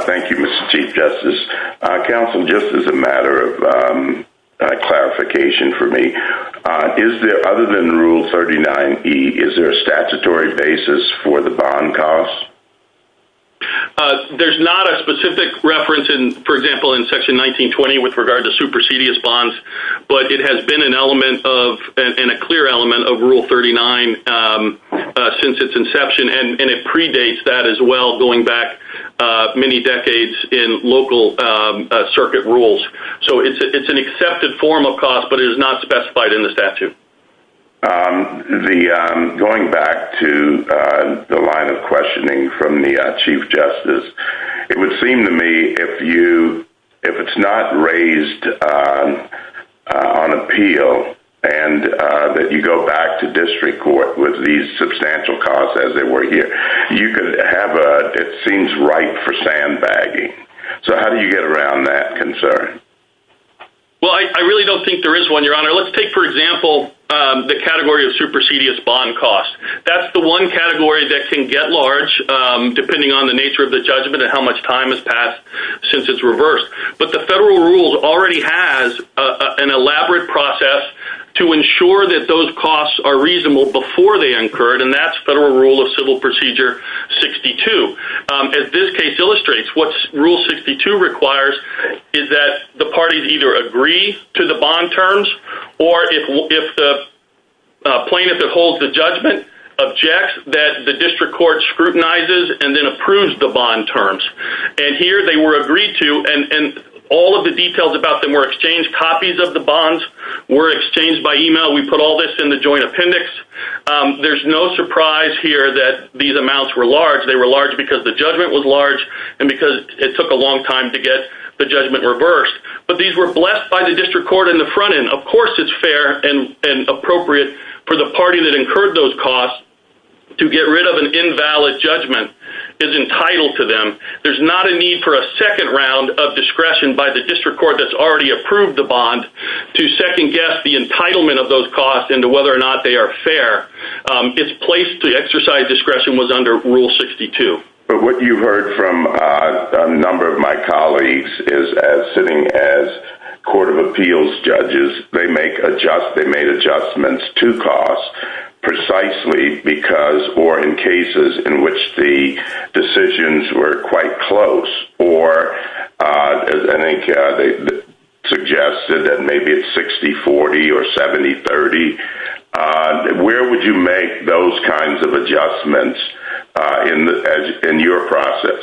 Thank you, Mr. Chief Justice. Counsel, just as a matter of clarification for me, is there, other than Rule 39E, is there a statutory basis for the bond costs? There's not a specific reference, for example, in Section 1920 with regard to supersedious bonds, but it has been an element of, and a clear element of Rule 39 since its inception. And it predates that as well, going back many decades in local circuit rules. So it's an accepted form of cost, but it is not specified in the statute. Going back to the line of questioning from the Chief Justice, it would seem to me if you, if it's not raised on appeal and that you go back to district court with these substantial costs as they were here, you could have a, it seems ripe for sandbagging. So how do you get around that concern? Well, I really don't think there is one, Your Honor. Let's take, for example, the category of supersedious bond costs. That's the one category that can get large depending on the nature of the judgment and how much time has passed since it's reversed. But the federal rules already has an elaborate process to ensure that those costs are reasonable before they incurred, and that's Federal Rule of Civil Procedure 62. As this case illustrates, what Rule 62 requires is that the parties either agree to the bond terms, or if the plaintiff that holds the judgment objects that the district court scrutinizes and then approves the bond terms. And here they were agreed to, and all of the details about them were exchanged. Copies of the bonds were exchanged by email. We put all this in the joint appendix. There's no surprise here that these amounts were large. They were large because the judgment was large and because it took a long time to get the judgment reversed. But these were blessed by the district court in the front end. Of course it's fair and appropriate for the party that incurred those costs to get rid of an invalid judgment is entitled to them. There's not a need for a second round of discretion by the district court that's already approved the bond to second guess the entitlement of those costs into whether or not they are fair. Its place to exercise discretion was under Rule 62. But what you heard from a number of my colleagues is as sitting as Court of Appeals judges, they make adjustments to costs precisely because or in cases in which the decisions were quite close or as they suggested that maybe it's 60-40 or 70-30. Where would you make those kinds of adjustments in your process?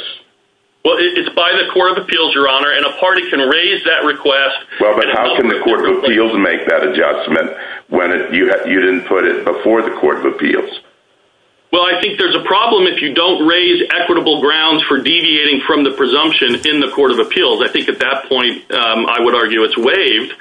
Well, it's by the Court of Appeals, Your Honor, and a party can raise that request. Well, but how can the Court of Appeals make that adjustment when you didn't put it before the Court of Appeals? Well, I think there's a problem if you don't raise equitable grounds for deviating from the presumption in the Court of Appeals. I think at that point, I would argue it's waived.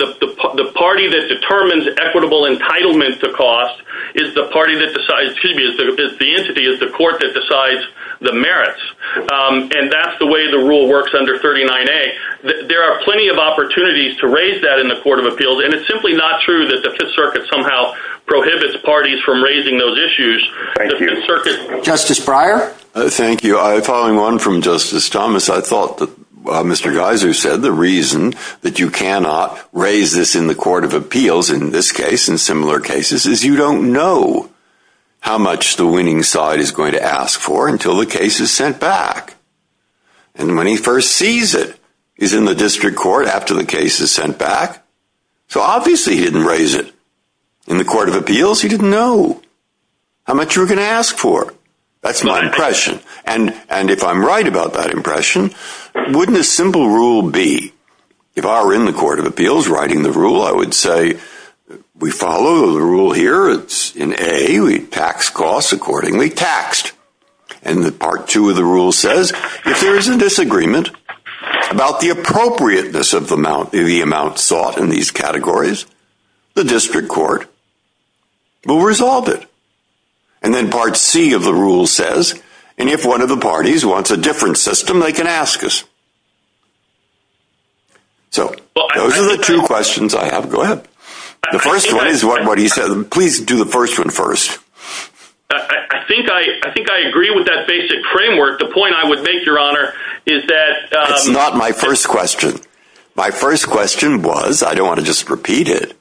The party that determines equitable entitlement to cost is the party that decides, excuse me, the entity is the court that decides the merits. And that's the way the rule works under 39A. There are plenty of opportunities to raise that in the Court of Appeals. And it's simply not true that the Fifth Circuit somehow prohibits parties from raising those issues. Thank you. Justice Breyer. Thank you. Following on from Justice Thomas, I thought that Mr. Geiser said the reason that you cannot raise this in the Court of Appeals, in this case, in similar cases, is you don't know how much the winning side is going to ask for until the case is sent back. And when he first sees it, he's in the district court after the case is sent back. So obviously he didn't raise it. In the Court of Appeals, he didn't know how much you were gonna ask for. That's my impression. And if I'm right about that impression, wouldn't a simple rule be, if I were in the Court of Appeals writing the rule, I would say, we follow the rule here. It's in A, we tax costs accordingly taxed. And the part two of the rule says, if there's a disagreement about the appropriateness of the amount sought in these categories, the district court will resolve it. And then part C of the rule says, and if one of the parties wants a different system, they can ask us. So those are the two questions I have. Go ahead. The first one is what he said. Please do the first one first. I think I agree with that basic framework. The point I would make, Your Honor, is that- It's not my first question. My first question was, I don't wanna just repeat it,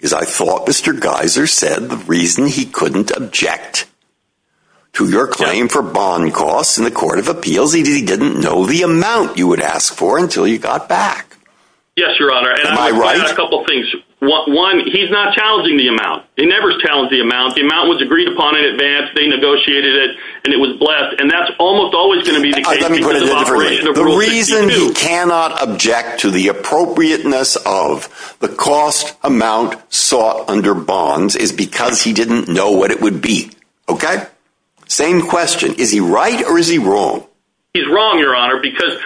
is I thought Mr. Geiser said the reason he couldn't object to your claim for bond costs in the Court of Appeals, he didn't know the amount you would ask for until you got back. Yes, Your Honor. Am I right? A couple of things. One, he's not challenging the amount. He never challenged the amount. The amount was agreed upon in advance, they negotiated it, and it was blessed. And that's almost always gonna be the case because of operation. The reason he cannot object to the appropriateness of the cost amount sought under bonds is because he didn't know what it would be, okay? Same question. Is he right or is he wrong? He's wrong, Your Honor, because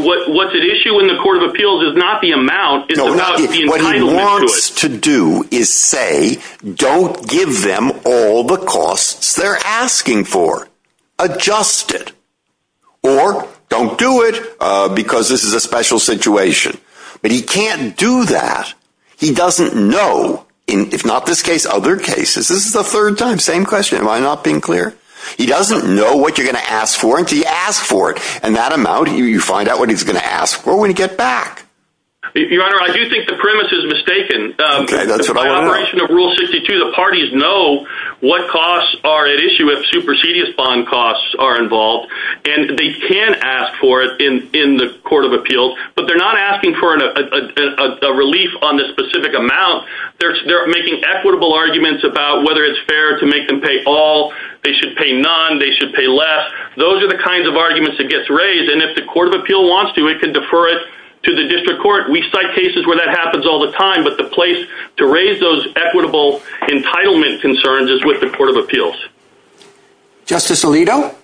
what's at issue in the Court of Appeals is not the amount, it's about the entitlement to it. What he wants to do is say, don't give them all the costs they're asking for, adjust it. Or don't do it because this is a special situation. But he can't do that. He doesn't know, if not this case, other cases. This is the third time. Same question. Am I not being clear? He doesn't know what you're gonna ask for until you ask for it. And that amount, you find out what he's gonna ask for when you get back. Your Honor, I do think the premise is mistaken. Okay, that's what I understand. The operation of Rule 62, the parties know what costs are at issue if supersedious bond costs are involved. And they can ask for it in the Court of Appeals, but they're not asking for a relief on the specific amount. They're making equitable arguments about whether it's fair to make them pay all, they should pay none, they should pay less. Those are the kinds of arguments that gets raised. And if the Court of Appeals wants to, it can defer it to the District Court. We cite cases where that happens all the time, but the place to raise those equitable entitlement concerns is with the Court of Appeals. Justice Alito?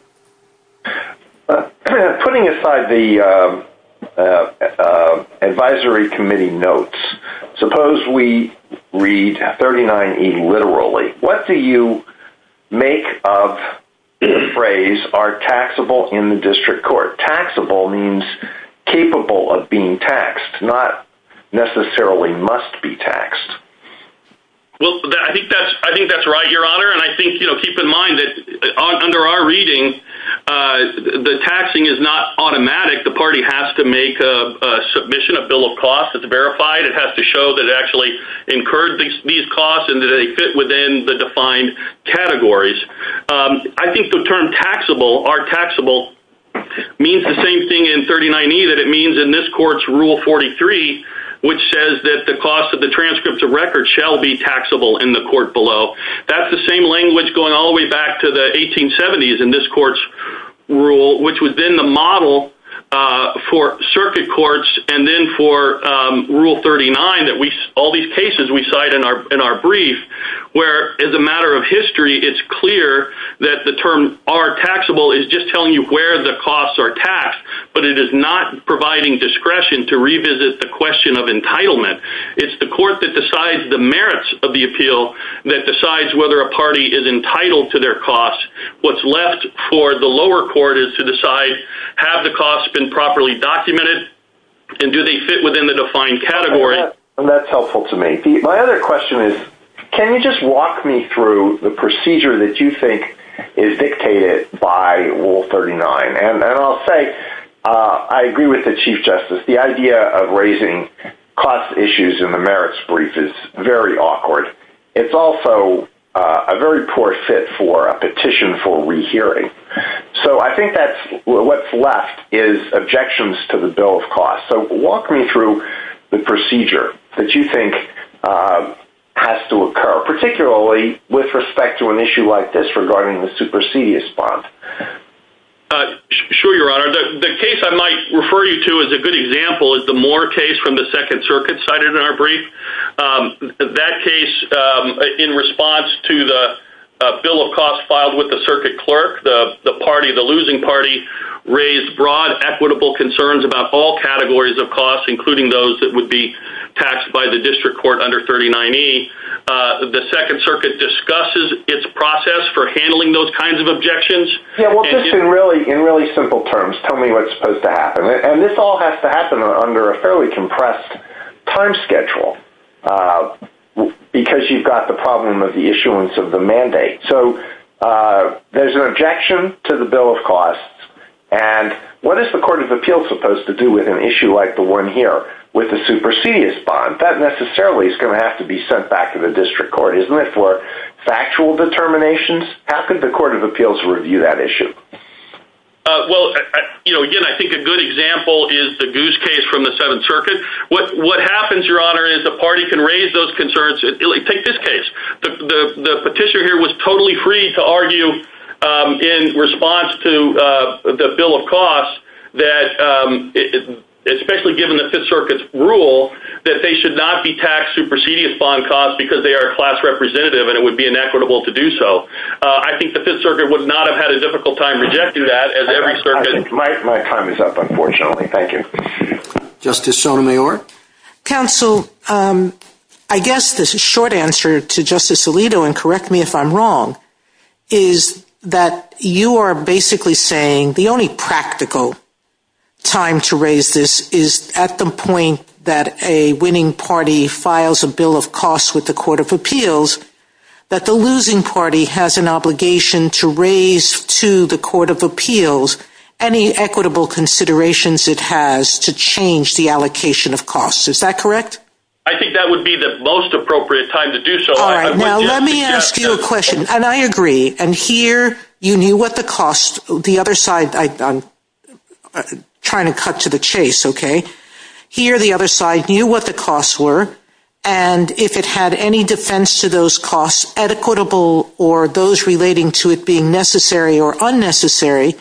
Putting aside the advisory committee notes, suppose we read 39E literally. What do you make of the phrase, are taxable in the District Court? Taxable means capable of being taxed, not necessarily must be taxed. Well, I think that's right, Your Honor. And I think, keep in mind that under our reading, the taxing is not automatic. The party has to make a submission, a bill of cost. It's verified. It has to show that it actually incurred these costs and that they fit within the defined categories. I think the term taxable, are taxable, means the same thing in 39E that it means in this court's Rule 43, which says that the cost of the transcripts of records shall be taxable in the court below. That's the same language going all the way back to the 1870s in this court's rule, which was then the model for circuit courts and then for Rule 39, all these cases we cite in our brief, where as a matter of history, it's clear that the term are taxable is just telling you where the costs are taxed, but it is not providing discretion to revisit the question of entitlement. It's the court that decides the merits of the appeal that decides whether a party is entitled to their costs. What's left for the lower court is to decide have the costs been properly documented and do they fit within the defined category? And that's helpful to me. My other question is, can you just walk me through the procedure that you think is dictated by Rule 39? And I'll say, I agree with the Chief Justice. The idea of raising cost issues in the merits brief is very awkward. It's also a very poor fit for a petition for rehearing. So I think that's what's left is objections to the Bill of Costs. So walk me through the procedure that you think has to occur, particularly with respect to an issue like this regarding the supersedious bond. Sure, Your Honor. The case I might refer you to as a good example is the Moore case from the Second Circuit cited in our brief. That case, in response to the Bill of Costs filed with the circuit clerk, the party, the losing party, raised broad equitable concerns about all categories of costs, including those that would be taxed by the district court under 39E. The Second Circuit discusses its process for handling those kinds of objections. Yeah, well, just in really simple terms, tell me what's supposed to happen. And this all has to happen under a fairly compressed time schedule because you've got the problem of the issuance of the mandate. So there's an objection to the Bill of Costs. And what is the Court of Appeals supposed to do with an issue like the one here with the supersedious bond? That necessarily is gonna have to be sent back to the district court, isn't it, for factual determinations? How could the Court of Appeals review that issue? Well, again, I think a good example is the Goose case from the Seventh Circuit. What happens, Your Honor, is the party can raise those concerns. Take this case. The petitioner here was totally free to argue in response to the Bill of Costs that especially given the Fifth Circuit's rule that they should not be taxed supersedious bond costs because they are class representative and it would be inequitable to do so. I think the Fifth Circuit would not have had a difficult time to get through that as every circuit- My time is up, unfortunately. Thank you. Justice Sotomayor? Counsel, I guess the short answer to Justice Alito, and correct me if I'm wrong, is that you are basically saying the only practical time to raise this is at the point that a winning party files a Bill of Costs with the Court of Appeals that the losing party has an obligation to raise to the Court of Appeals any equitable considerations it has to change the allocation of costs. Is that correct? I think that would be the most appropriate time to do so. All right, now let me ask you a question, and I agree, and here you knew what the cost, the other side, I'm trying to cut to the chase, okay? Here the other side knew what the costs were and if it had any defense to those costs, equitable or those relating to it being necessary or unnecessary,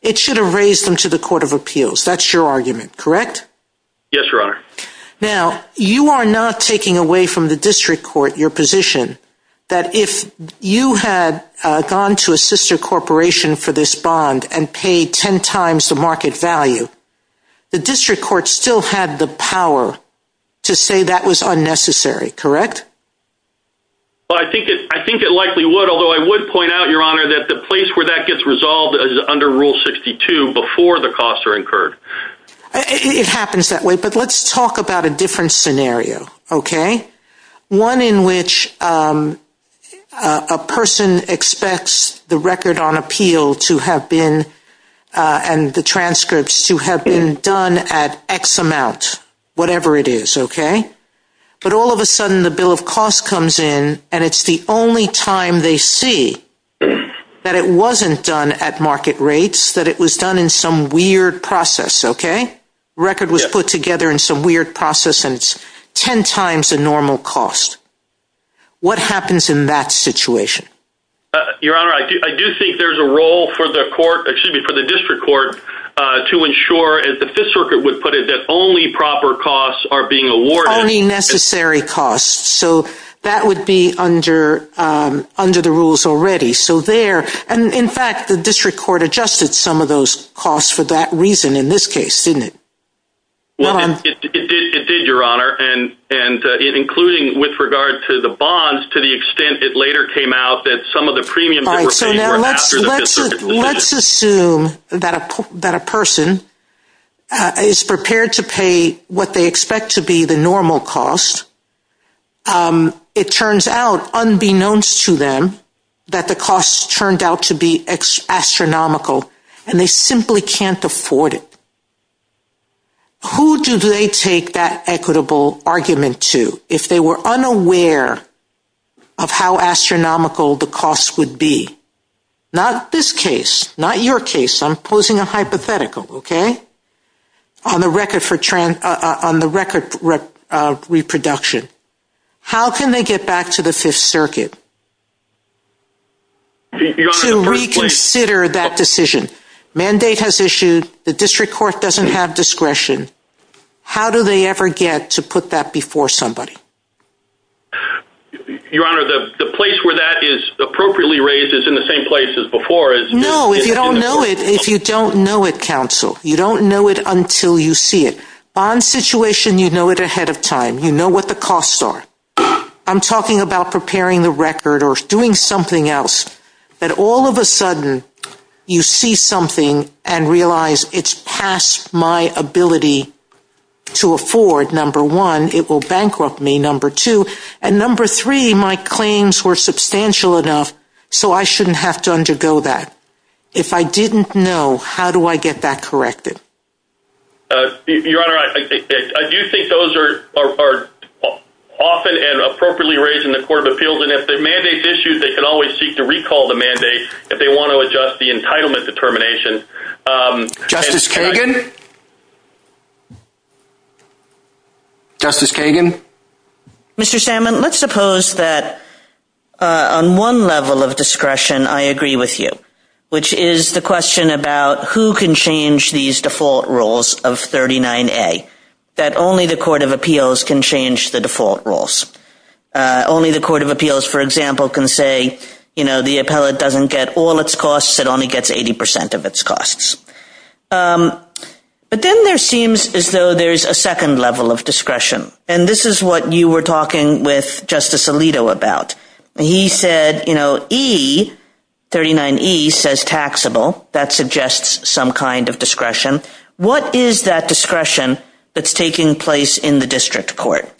it should have raised them to the Court of Appeals. That's your argument, correct? Yes, Your Honor. Now, you are not taking away from the district court your position that if you had gone to a sister corporation for this bond and paid 10 times the market value, the district court still had the power to say that was unnecessary, correct? Well, I think it likely would, although I would point out, Your Honor, that the place where that gets resolved is under Rule 62 before the costs are incurred. It happens that way, but let's talk about a different scenario, okay? One in which a person expects the record on appeal to have been, and the transcripts to have been done at X amount, whatever it is, okay? But all of a sudden the bill of costs comes in and it's the only time they see that it wasn't done at market rates, that it was done in some weird process, okay? Record was put together in some weird process and it's 10 times the normal cost. What happens in that situation? Your Honor, I do think there's a role for the court, excuse me, for the district court to ensure, as the Fifth Circuit would put it, that only proper costs are being awarded. Only necessary costs. So that would be under the rules already. So there, and in fact, the district court adjusted some of those costs for that reason in this case, didn't it? Well, it did, Your Honor, and including with regard to the bonds, to the extent it later came out that some of the premiums that were paid were after the Fifth Circuit decision. Let's assume that a person is prepared to pay what they expect to be the normal cost, it turns out, unbeknownst to them, that the cost turned out to be astronomical and they simply can't afford it. Who do they take that equitable argument to if they were unaware of how astronomical the cost would be? Not this case, not your case. I'm posing a hypothetical, okay? On the record reproduction. How can they get back to the Fifth Circuit to reconsider that decision? Mandate has issued, the district court doesn't have discretion. How do they ever get to put that before somebody? Your Honor, the place where that is appropriately raised is in the same place as before. No, if you don't know it, if you don't know it, counsel, you don't know it until you see it. Bond situation, you know it ahead of time. You know what the costs are. I'm talking about preparing the record or doing something else, but all of a sudden you see something and realize it's past my ability to afford, number one, it will bankrupt me, number two. And number three, my claims were substantial enough so I shouldn't have to undergo that. If I didn't know, how do I get that corrected? Your Honor, I do think those are often and appropriately raised in the Court of Appeals. And if the mandate's issued, they can always seek to recall the mandate if they want to adjust the entitlement determination. Justice Kagan? Justice Kagan? Mr. Salmon, let's suppose that on one level of discretion, I agree with you, which is the question about who can change these default rules of 39A, that only the Court of Appeals can change the default rules. Only the Court of Appeals, for example, can say, you know, the appellate doesn't get all its costs, it only gets 80% of its costs. But then there seems as though there's a second level of discretion. And this is what you were talking with Justice Alito about. He said, you know, E, 39E says taxable. That suggests some kind of discretion. What is that discretion that's taking place in the district court?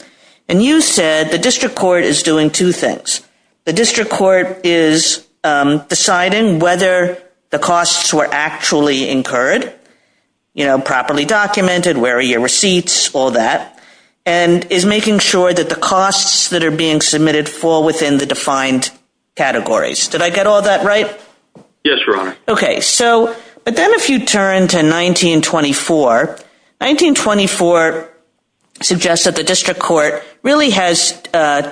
And you said the district court is doing two things. The district court is deciding whether the costs were actually incurred, you know, properly documented, where are your receipts, all that, and is making sure that the costs that are being submitted fall within the defined categories. Did I get all that right? Yes, Your Honor. Okay, so, but then if you turn to 1924, 1924 suggests that the district court really has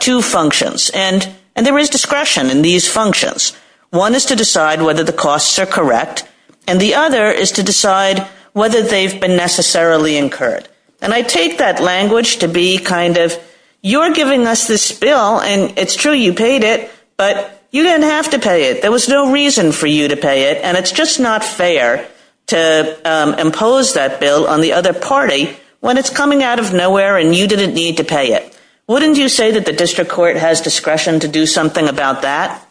two functions, and there is discretion in these functions. One is to decide whether the costs are correct, and the other is to decide whether they've been necessarily incurred. And I take that language to be kind of, you're giving us this bill, and it's true, you paid it, but you didn't have to pay it. There was no reason for you to pay it, and it's just not fair to impose that bill on the other party when it's coming out of nowhere and you didn't need to pay it. Wouldn't you say that the district court has discretion to do something about that?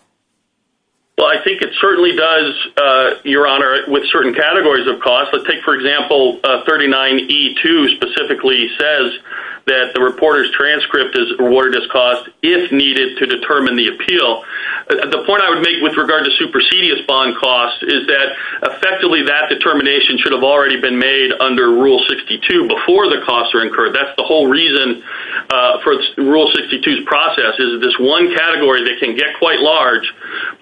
Well, I think it certainly does, Your Honor, with certain categories of costs. Let's take, for example, 39E2 specifically says that the reporter's transcript is awarded as cost if needed to determine the appeal. But the point I would make with regard to supersedious bond costs is that effectively that determination should have already been made under Rule 62 before the costs are incurred. That's the whole reason for Rule 62's process is this one category that can get quite large.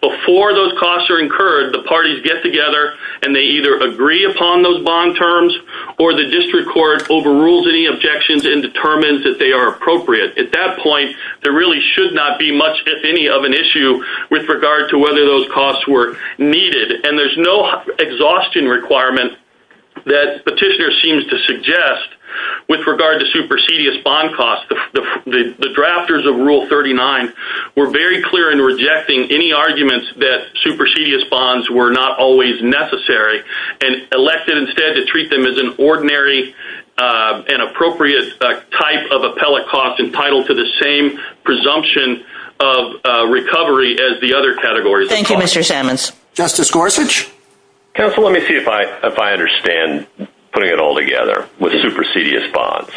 Before those costs are incurred, the parties get together and they either agree upon those bond terms or the district court overrules any objections and determines that they are appropriate. At that point, there really should not be much, if any, of an issue with regard to whether those costs were needed. And there's no exhaustion requirement that Petitioner seems to suggest with regard to supersedious bond costs. The drafters of Rule 39 were very clear in rejecting any arguments that supersedious bonds were not always necessary and elected instead to treat them as an ordinary and appropriate type of appellate cost entitled to the same presumption of recovery as the other categories of costs. Thank you, Mr. Sammons. Justice Gorsuch? Counsel, let me see if I understand putting it all together with supersedious bonds.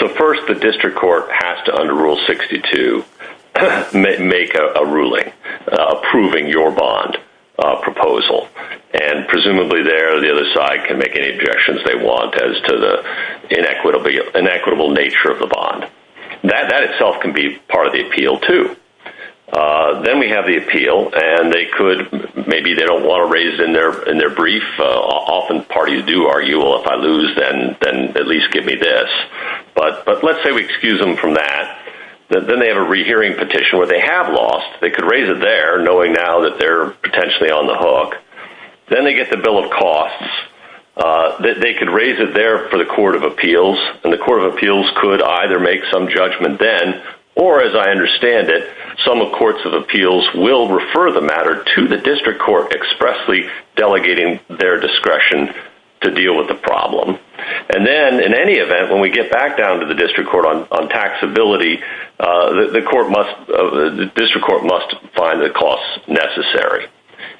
So first, the district court has to, under Rule 62, make a ruling approving your bond proposal. And presumably there, the other side can make any objections they want as to the inequitable nature of the bond. That itself can be part of the appeal, too. Then we have the appeal, and they could, maybe they don't wanna raise it in their brief. Often parties do argue, well, if I lose, then at least give me this. But let's say we excuse them from that. Then they have a rehearing petition where they have lost. They could raise it there, knowing now that they're potentially on the hook. Then they get the bill of costs. They could raise it there for the Court of Appeals, and the Court of Appeals could either make some judgment then or, as I understand it, some courts of appeals will refer the matter to the district court expressly delegating their discretion to deal with the problem. And then, in any event, when we get back down to the district court on taxability, the district court must find the costs necessary.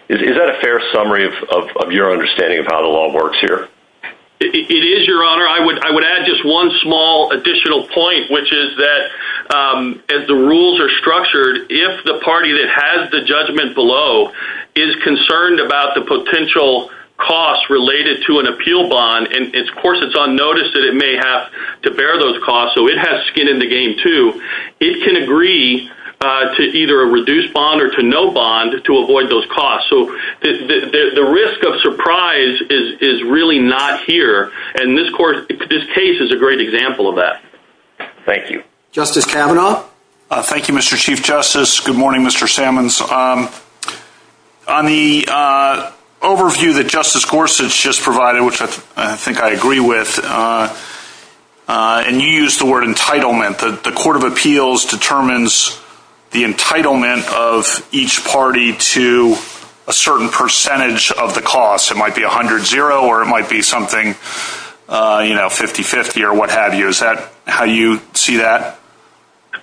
Is that a fair summary of your understanding of how the law works here? It is, Your Honor. I would add just one small additional point, which is that, as the rules are structured, if the party that has the judgment below is concerned about the potential costs related to an appeal bond, and, of course, it's on notice that it may have to bear those costs, so it has skin in the game, too, it can agree to either a reduced bond or to no bond to avoid those costs. So, the risk of surprise is really not here, and this case is a great example of that. Thank you. Justice Kavanaugh? Thank you, Mr. Chief Justice. Good morning, Mr. Sammons. On the overview that Justice Gorsuch just provided, which I think I agree with, and you used the word entitlement, the Court of Appeals determines the entitlement of each party to a certain percentage of the cost. It might be 100-0, or it might be something 50-50, or what have you. Is that how you see that?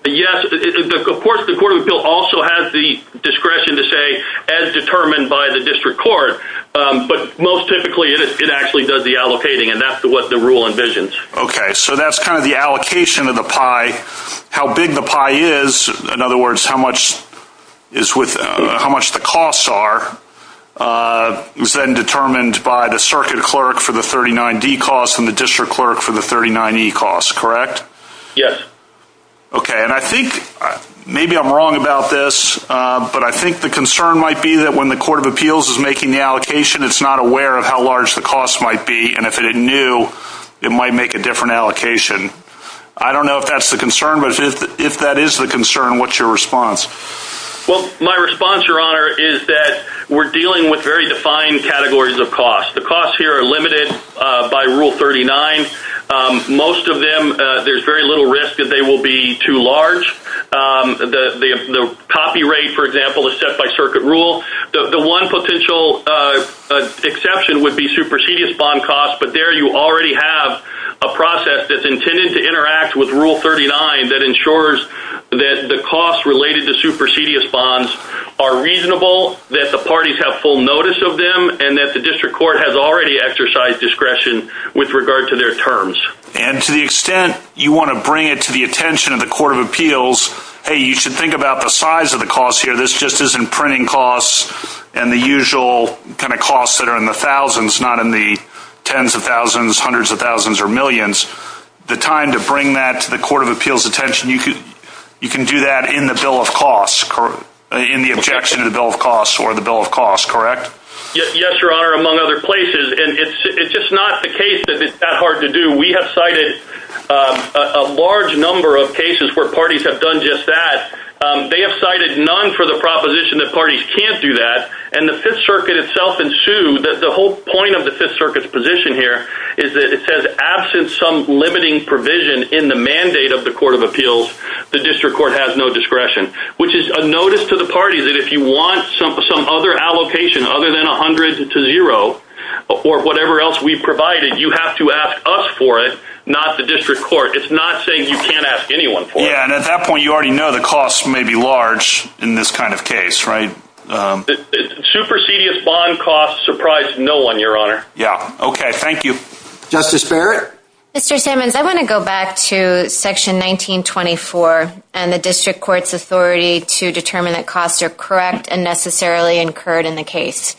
Yes, of course, the Court of Appeals also has the discretion to say, as determined by the district court, but most typically, it actually does the allocating, and that's what the rule envisions. Okay, so that's kind of the allocation of the pie. How big the pie is, in other words, is how much the costs are, is then determined by the circuit clerk for the 39-D cost and the district clerk for the 39-E cost, correct? Yes. Okay, and I think, maybe I'm wrong about this, but I think the concern might be that when the Court of Appeals is making the allocation, it's not aware of how large the cost might be, and if it knew, it might make a different allocation. I don't know if that's the concern, but if that is the concern, what's your response? Well, my response, Your Honor, is that we're dealing with very defined categories of cost. The costs here are limited by Rule 39. Most of them, there's very little risk that they will be too large. The copy rate, for example, is set by circuit rule. The one potential exception would be supersedious bond costs, but there you already have a process that's intended to interact with Rule 39 that ensures that the costs related to supersedious bonds are reasonable, that the parties have full notice of them, and that the district court has already exercised discretion with regard to their terms. And to the extent you want to bring it to the attention of the Court of Appeals, hey, you should think about the size of the cost here. This just isn't printing costs and the usual kind of costs that are in the thousands, not in the tens of thousands, hundreds of thousands, or millions. The time to bring that to the Court of Appeals' attention, you can do that in the Bill of Costs, in the objection to the Bill of Costs, or the Bill of Costs, correct? Yes, Your Honor, among other places. And it's just not the case that it's that hard to do. We have cited a large number of cases where parties have done just that. They have cited none for the proposition that parties can't do that, and the Fifth Circuit itself ensued. The whole point of the Fifth Circuit's position here is that it says, absent some limiting provision in the mandate of the Court of Appeals, the District Court has no discretion, which is a notice to the party that if you want some other allocation other than 100 to zero, or whatever else we've provided, you have to ask us for it, not the District Court. It's not saying you can't ask anyone for it. Yeah, and at that point, you already know the costs may be large in this kind of case, right? Supersedious bond costs surprise no one, Your Honor. Yeah, okay, thank you. Justice Barrett? Mr. Simmons, I wanna go back to Section 1924, and the District Court's authority to determine that costs are correct and necessarily incurred in the case.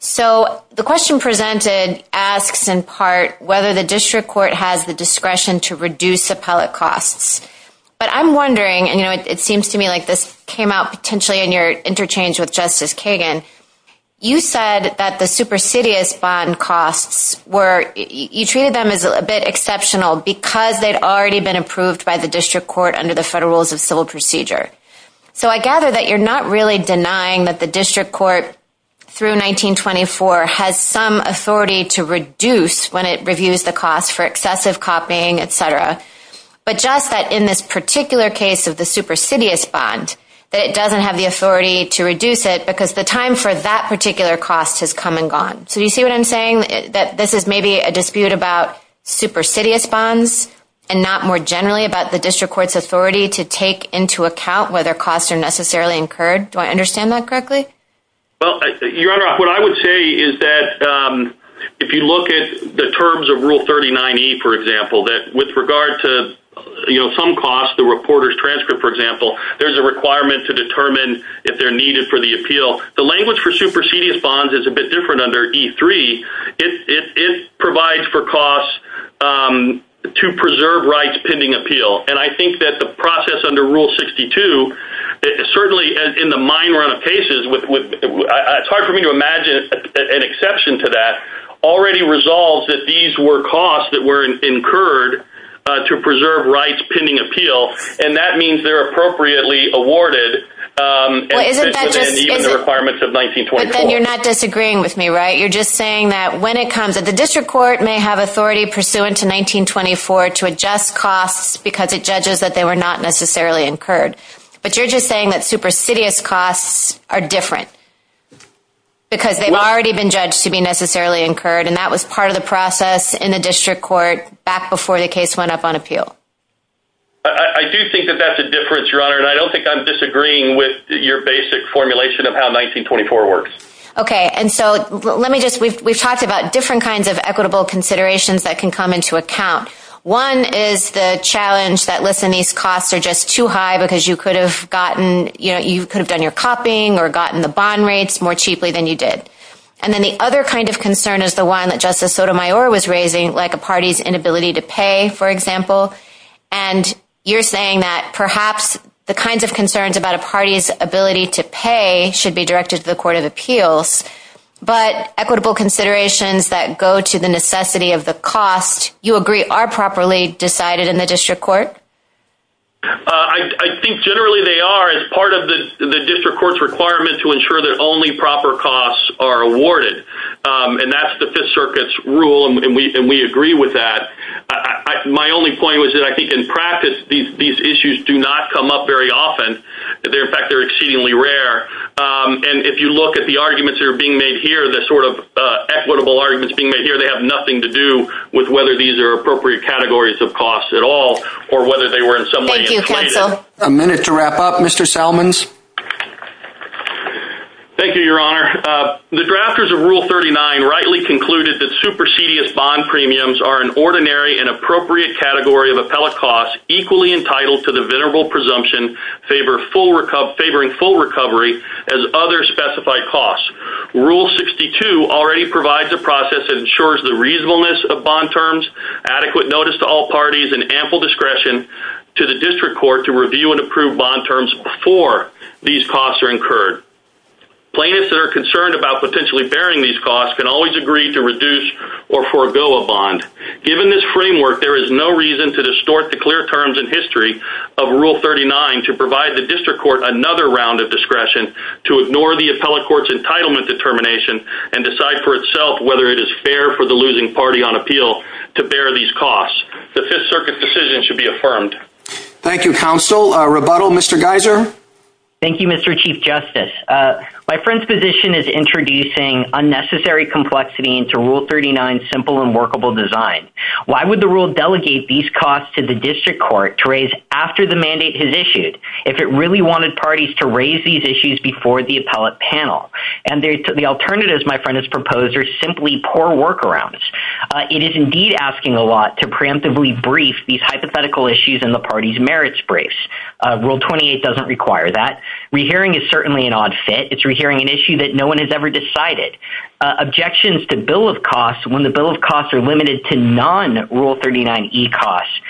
So the question presented asks, in part, whether the District Court has the discretion to reduce appellate costs. But I'm wondering, and it seems to me like this came out potentially in your interchange with Justice Kagan, you said that the supersedious bond costs were, you treated them as a bit exceptional because they'd already been approved by the District Court under the Federal Rules of Civil Procedure. So I gather that you're not really denying that the District Court, through 1924, has some authority to reduce when it reviews the cost for excessive copying, et cetera, but just that in this particular case of the supersedious bond, that it doesn't have the authority to reduce it because the time for that particular cost has come and gone. So do you see what I'm saying, that this is maybe a dispute about supersedious bonds and not more generally about the District Court's authority to take into account whether costs are necessarily incurred? Do I understand that correctly? Well, Your Honor, what I would say is that if you look at the terms of Rule 39E, for example, the reporter's transcript, for example, there's a requirement to determine if they're needed for the appeal. The language for supersedious bonds is a bit different under E3. It provides for costs to preserve rights pending appeal. And I think that the process under Rule 62, certainly in the minor cases, it's hard for me to imagine an exception to that, already resolves that these were costs that were incurred to preserve rights pending appeal. And that means they're appropriately awarded and even the requirements of 1924. You're not disagreeing with me, right? You're just saying that when it comes, that the District Court may have authority pursuant to 1924 to adjust costs because it judges that they were not necessarily incurred. But you're just saying that supersedious costs are different because they've already been judged to be necessarily incurred. And that was part of the process in the District Court back before the case went up on appeal. I do think that that's a difference, Your Honor. And I don't think I'm disagreeing with your basic formulation of how 1924 works. Okay, and so let me just, we've talked about different kinds of equitable considerations that can come into account. One is the challenge that, listen, these costs are just too high because you could have gotten, you could have done your copying or gotten the bond rates more cheaply than you did. And then the other kind of concern is the one that Justice Sotomayor was raising, like a party's inability to pay, for example. And you're saying that perhaps the kinds of concerns about a party's ability to pay should be directed to the Court of Appeals. But equitable considerations that go to the necessity of the cost, you agree, are properly decided in the District Court? I think generally they are as part of the District Court's requirement to ensure that only proper costs are awarded. And that's the Fifth Circuit's rule. And we agree with that. My only point was that I think in practice, these issues do not come up very often. They're, in fact, they're exceedingly rare. And if you look at the arguments that are being made here, the sort of equitable arguments being made here, they have nothing to do with whether these are appropriate categories of costs at all, or whether they were in some way inflated. A minute to wrap up, Mr. Salmons. Thank you, Your Honor. The drafters of Rule 39 rightly concluded that supersedious bond premiums are an ordinary and appropriate category of appellate costs equally entitled to the venerable presumption favoring full recovery as other specified costs. Rule 62 already provides a process that ensures the reasonableness of bond terms, adequate notice to all parties, and ample discretion to the District Court to review and approve bond terms before these costs are incurred. Plaintiffs that are concerned about potentially bearing these costs can always agree to reduce or forego a bond. Given this framework, there is no reason to distort the clear terms and history of Rule 39 to provide the District Court another round of discretion to ignore the appellate court's entitlement determination and decide for itself whether it is fair for the losing party on appeal to bear these costs. The Fifth Circuit's decision should be affirmed. Thank you, counsel. Rebuttal, Mr. Geiser. Thank you, Mr. Chief Justice. My friend's position is introducing unnecessary complexity into Rule 39's simple and workable design. Why would the rule delegate these costs to the District Court to raise after the mandate has issued if it really wanted parties to raise these issues before the appellate panel? And the alternatives, my friend has proposed, are simply poor workarounds. It is indeed asking a lot to preemptively brief these hypothetical issues in the party's merits briefs. Rule 28 doesn't require that. Rehearing is certainly an odd fit. It's rehearing an issue that no one has ever decided. Objections to bill of costs when the bill of costs are limited to non-Rule 39e costs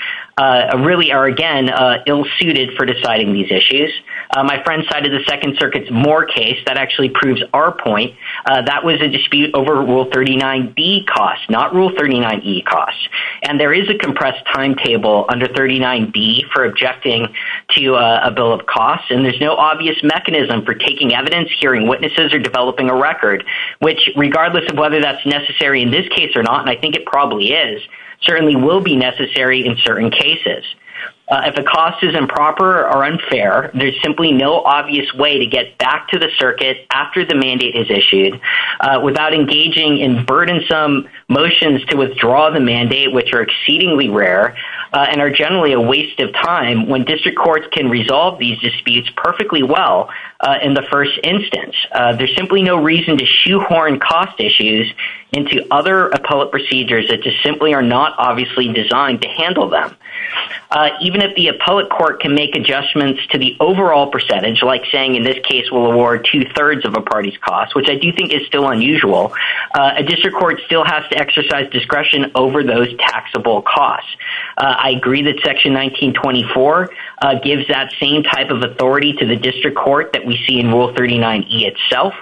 really are, again, ill-suited for deciding these issues. My friend cited the Second Circuit's Moore case that actually proves our point. That was a dispute over Rule 39b costs, not Rule 39e costs. And there is a compressed timetable under 39b for objecting to a bill of costs, and there's no obvious mechanism for taking evidence, hearing witnesses, or developing a record, which, regardless of whether that's necessary in this case or not, and I think it probably is, certainly will be necessary in certain cases. If a cost is improper or unfair, there's simply no obvious way to get back to the circuit after the mandate is issued without engaging in burdensome motions to withdraw the mandate, which are exceedingly rare and are generally a waste of time when district courts can resolve these disputes perfectly well in the first instance. There's simply no reason to shoehorn cost issues into other appellate procedures that just simply are not obviously designed to handle them. Even if the appellate court can make adjustments to the overall percentage, like saying in this case we'll award 2 3rds of a party's cost, which I do think is still unusual, a district court still has to exercise discretion over those taxable costs. I agree that Section 1924 gives that same type of authority to the district court that we see in Rule 39E itself.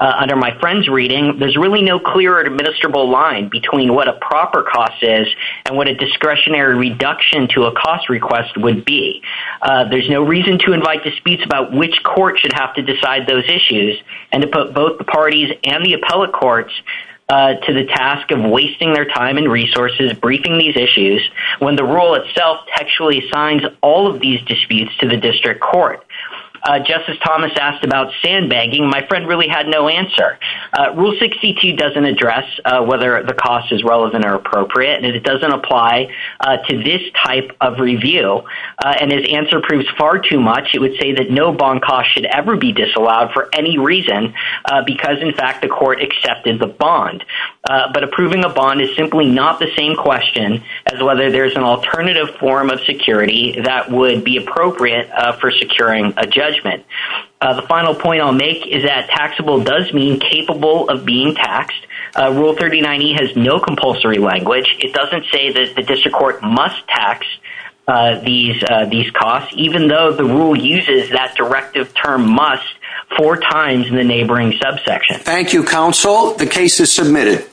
Under my friend's reading, there's really no clear administrable line between what a proper cost is and what a discretionary reduction to a cost request would be. There's no reason to invite disputes about which court should have to decide those issues and to put both the parties and the appellate courts to the task of wasting their time and resources briefing these issues when the rule itself actually signs all of these disputes to the district court. Just as Thomas asked about sandbagging, my friend really had no answer. Rule 62 doesn't address whether the cost is relevant or appropriate and it doesn't apply to this type of review. And his answer proves far too much. It would say that no bond cost should ever be disallowed for any reason, because in fact the court accepted the bond. But approving a bond is simply not the same question as whether there's an alternative form of security that would be appropriate for securing a judgment. The final point I'll make is that taxable does mean capable of being taxed. Rule 39E has no compulsory language. It doesn't say that the district court must tax these costs, even though the rule uses that directive term must four times in the neighboring subsection. Thank you, counsel. The case is submitted.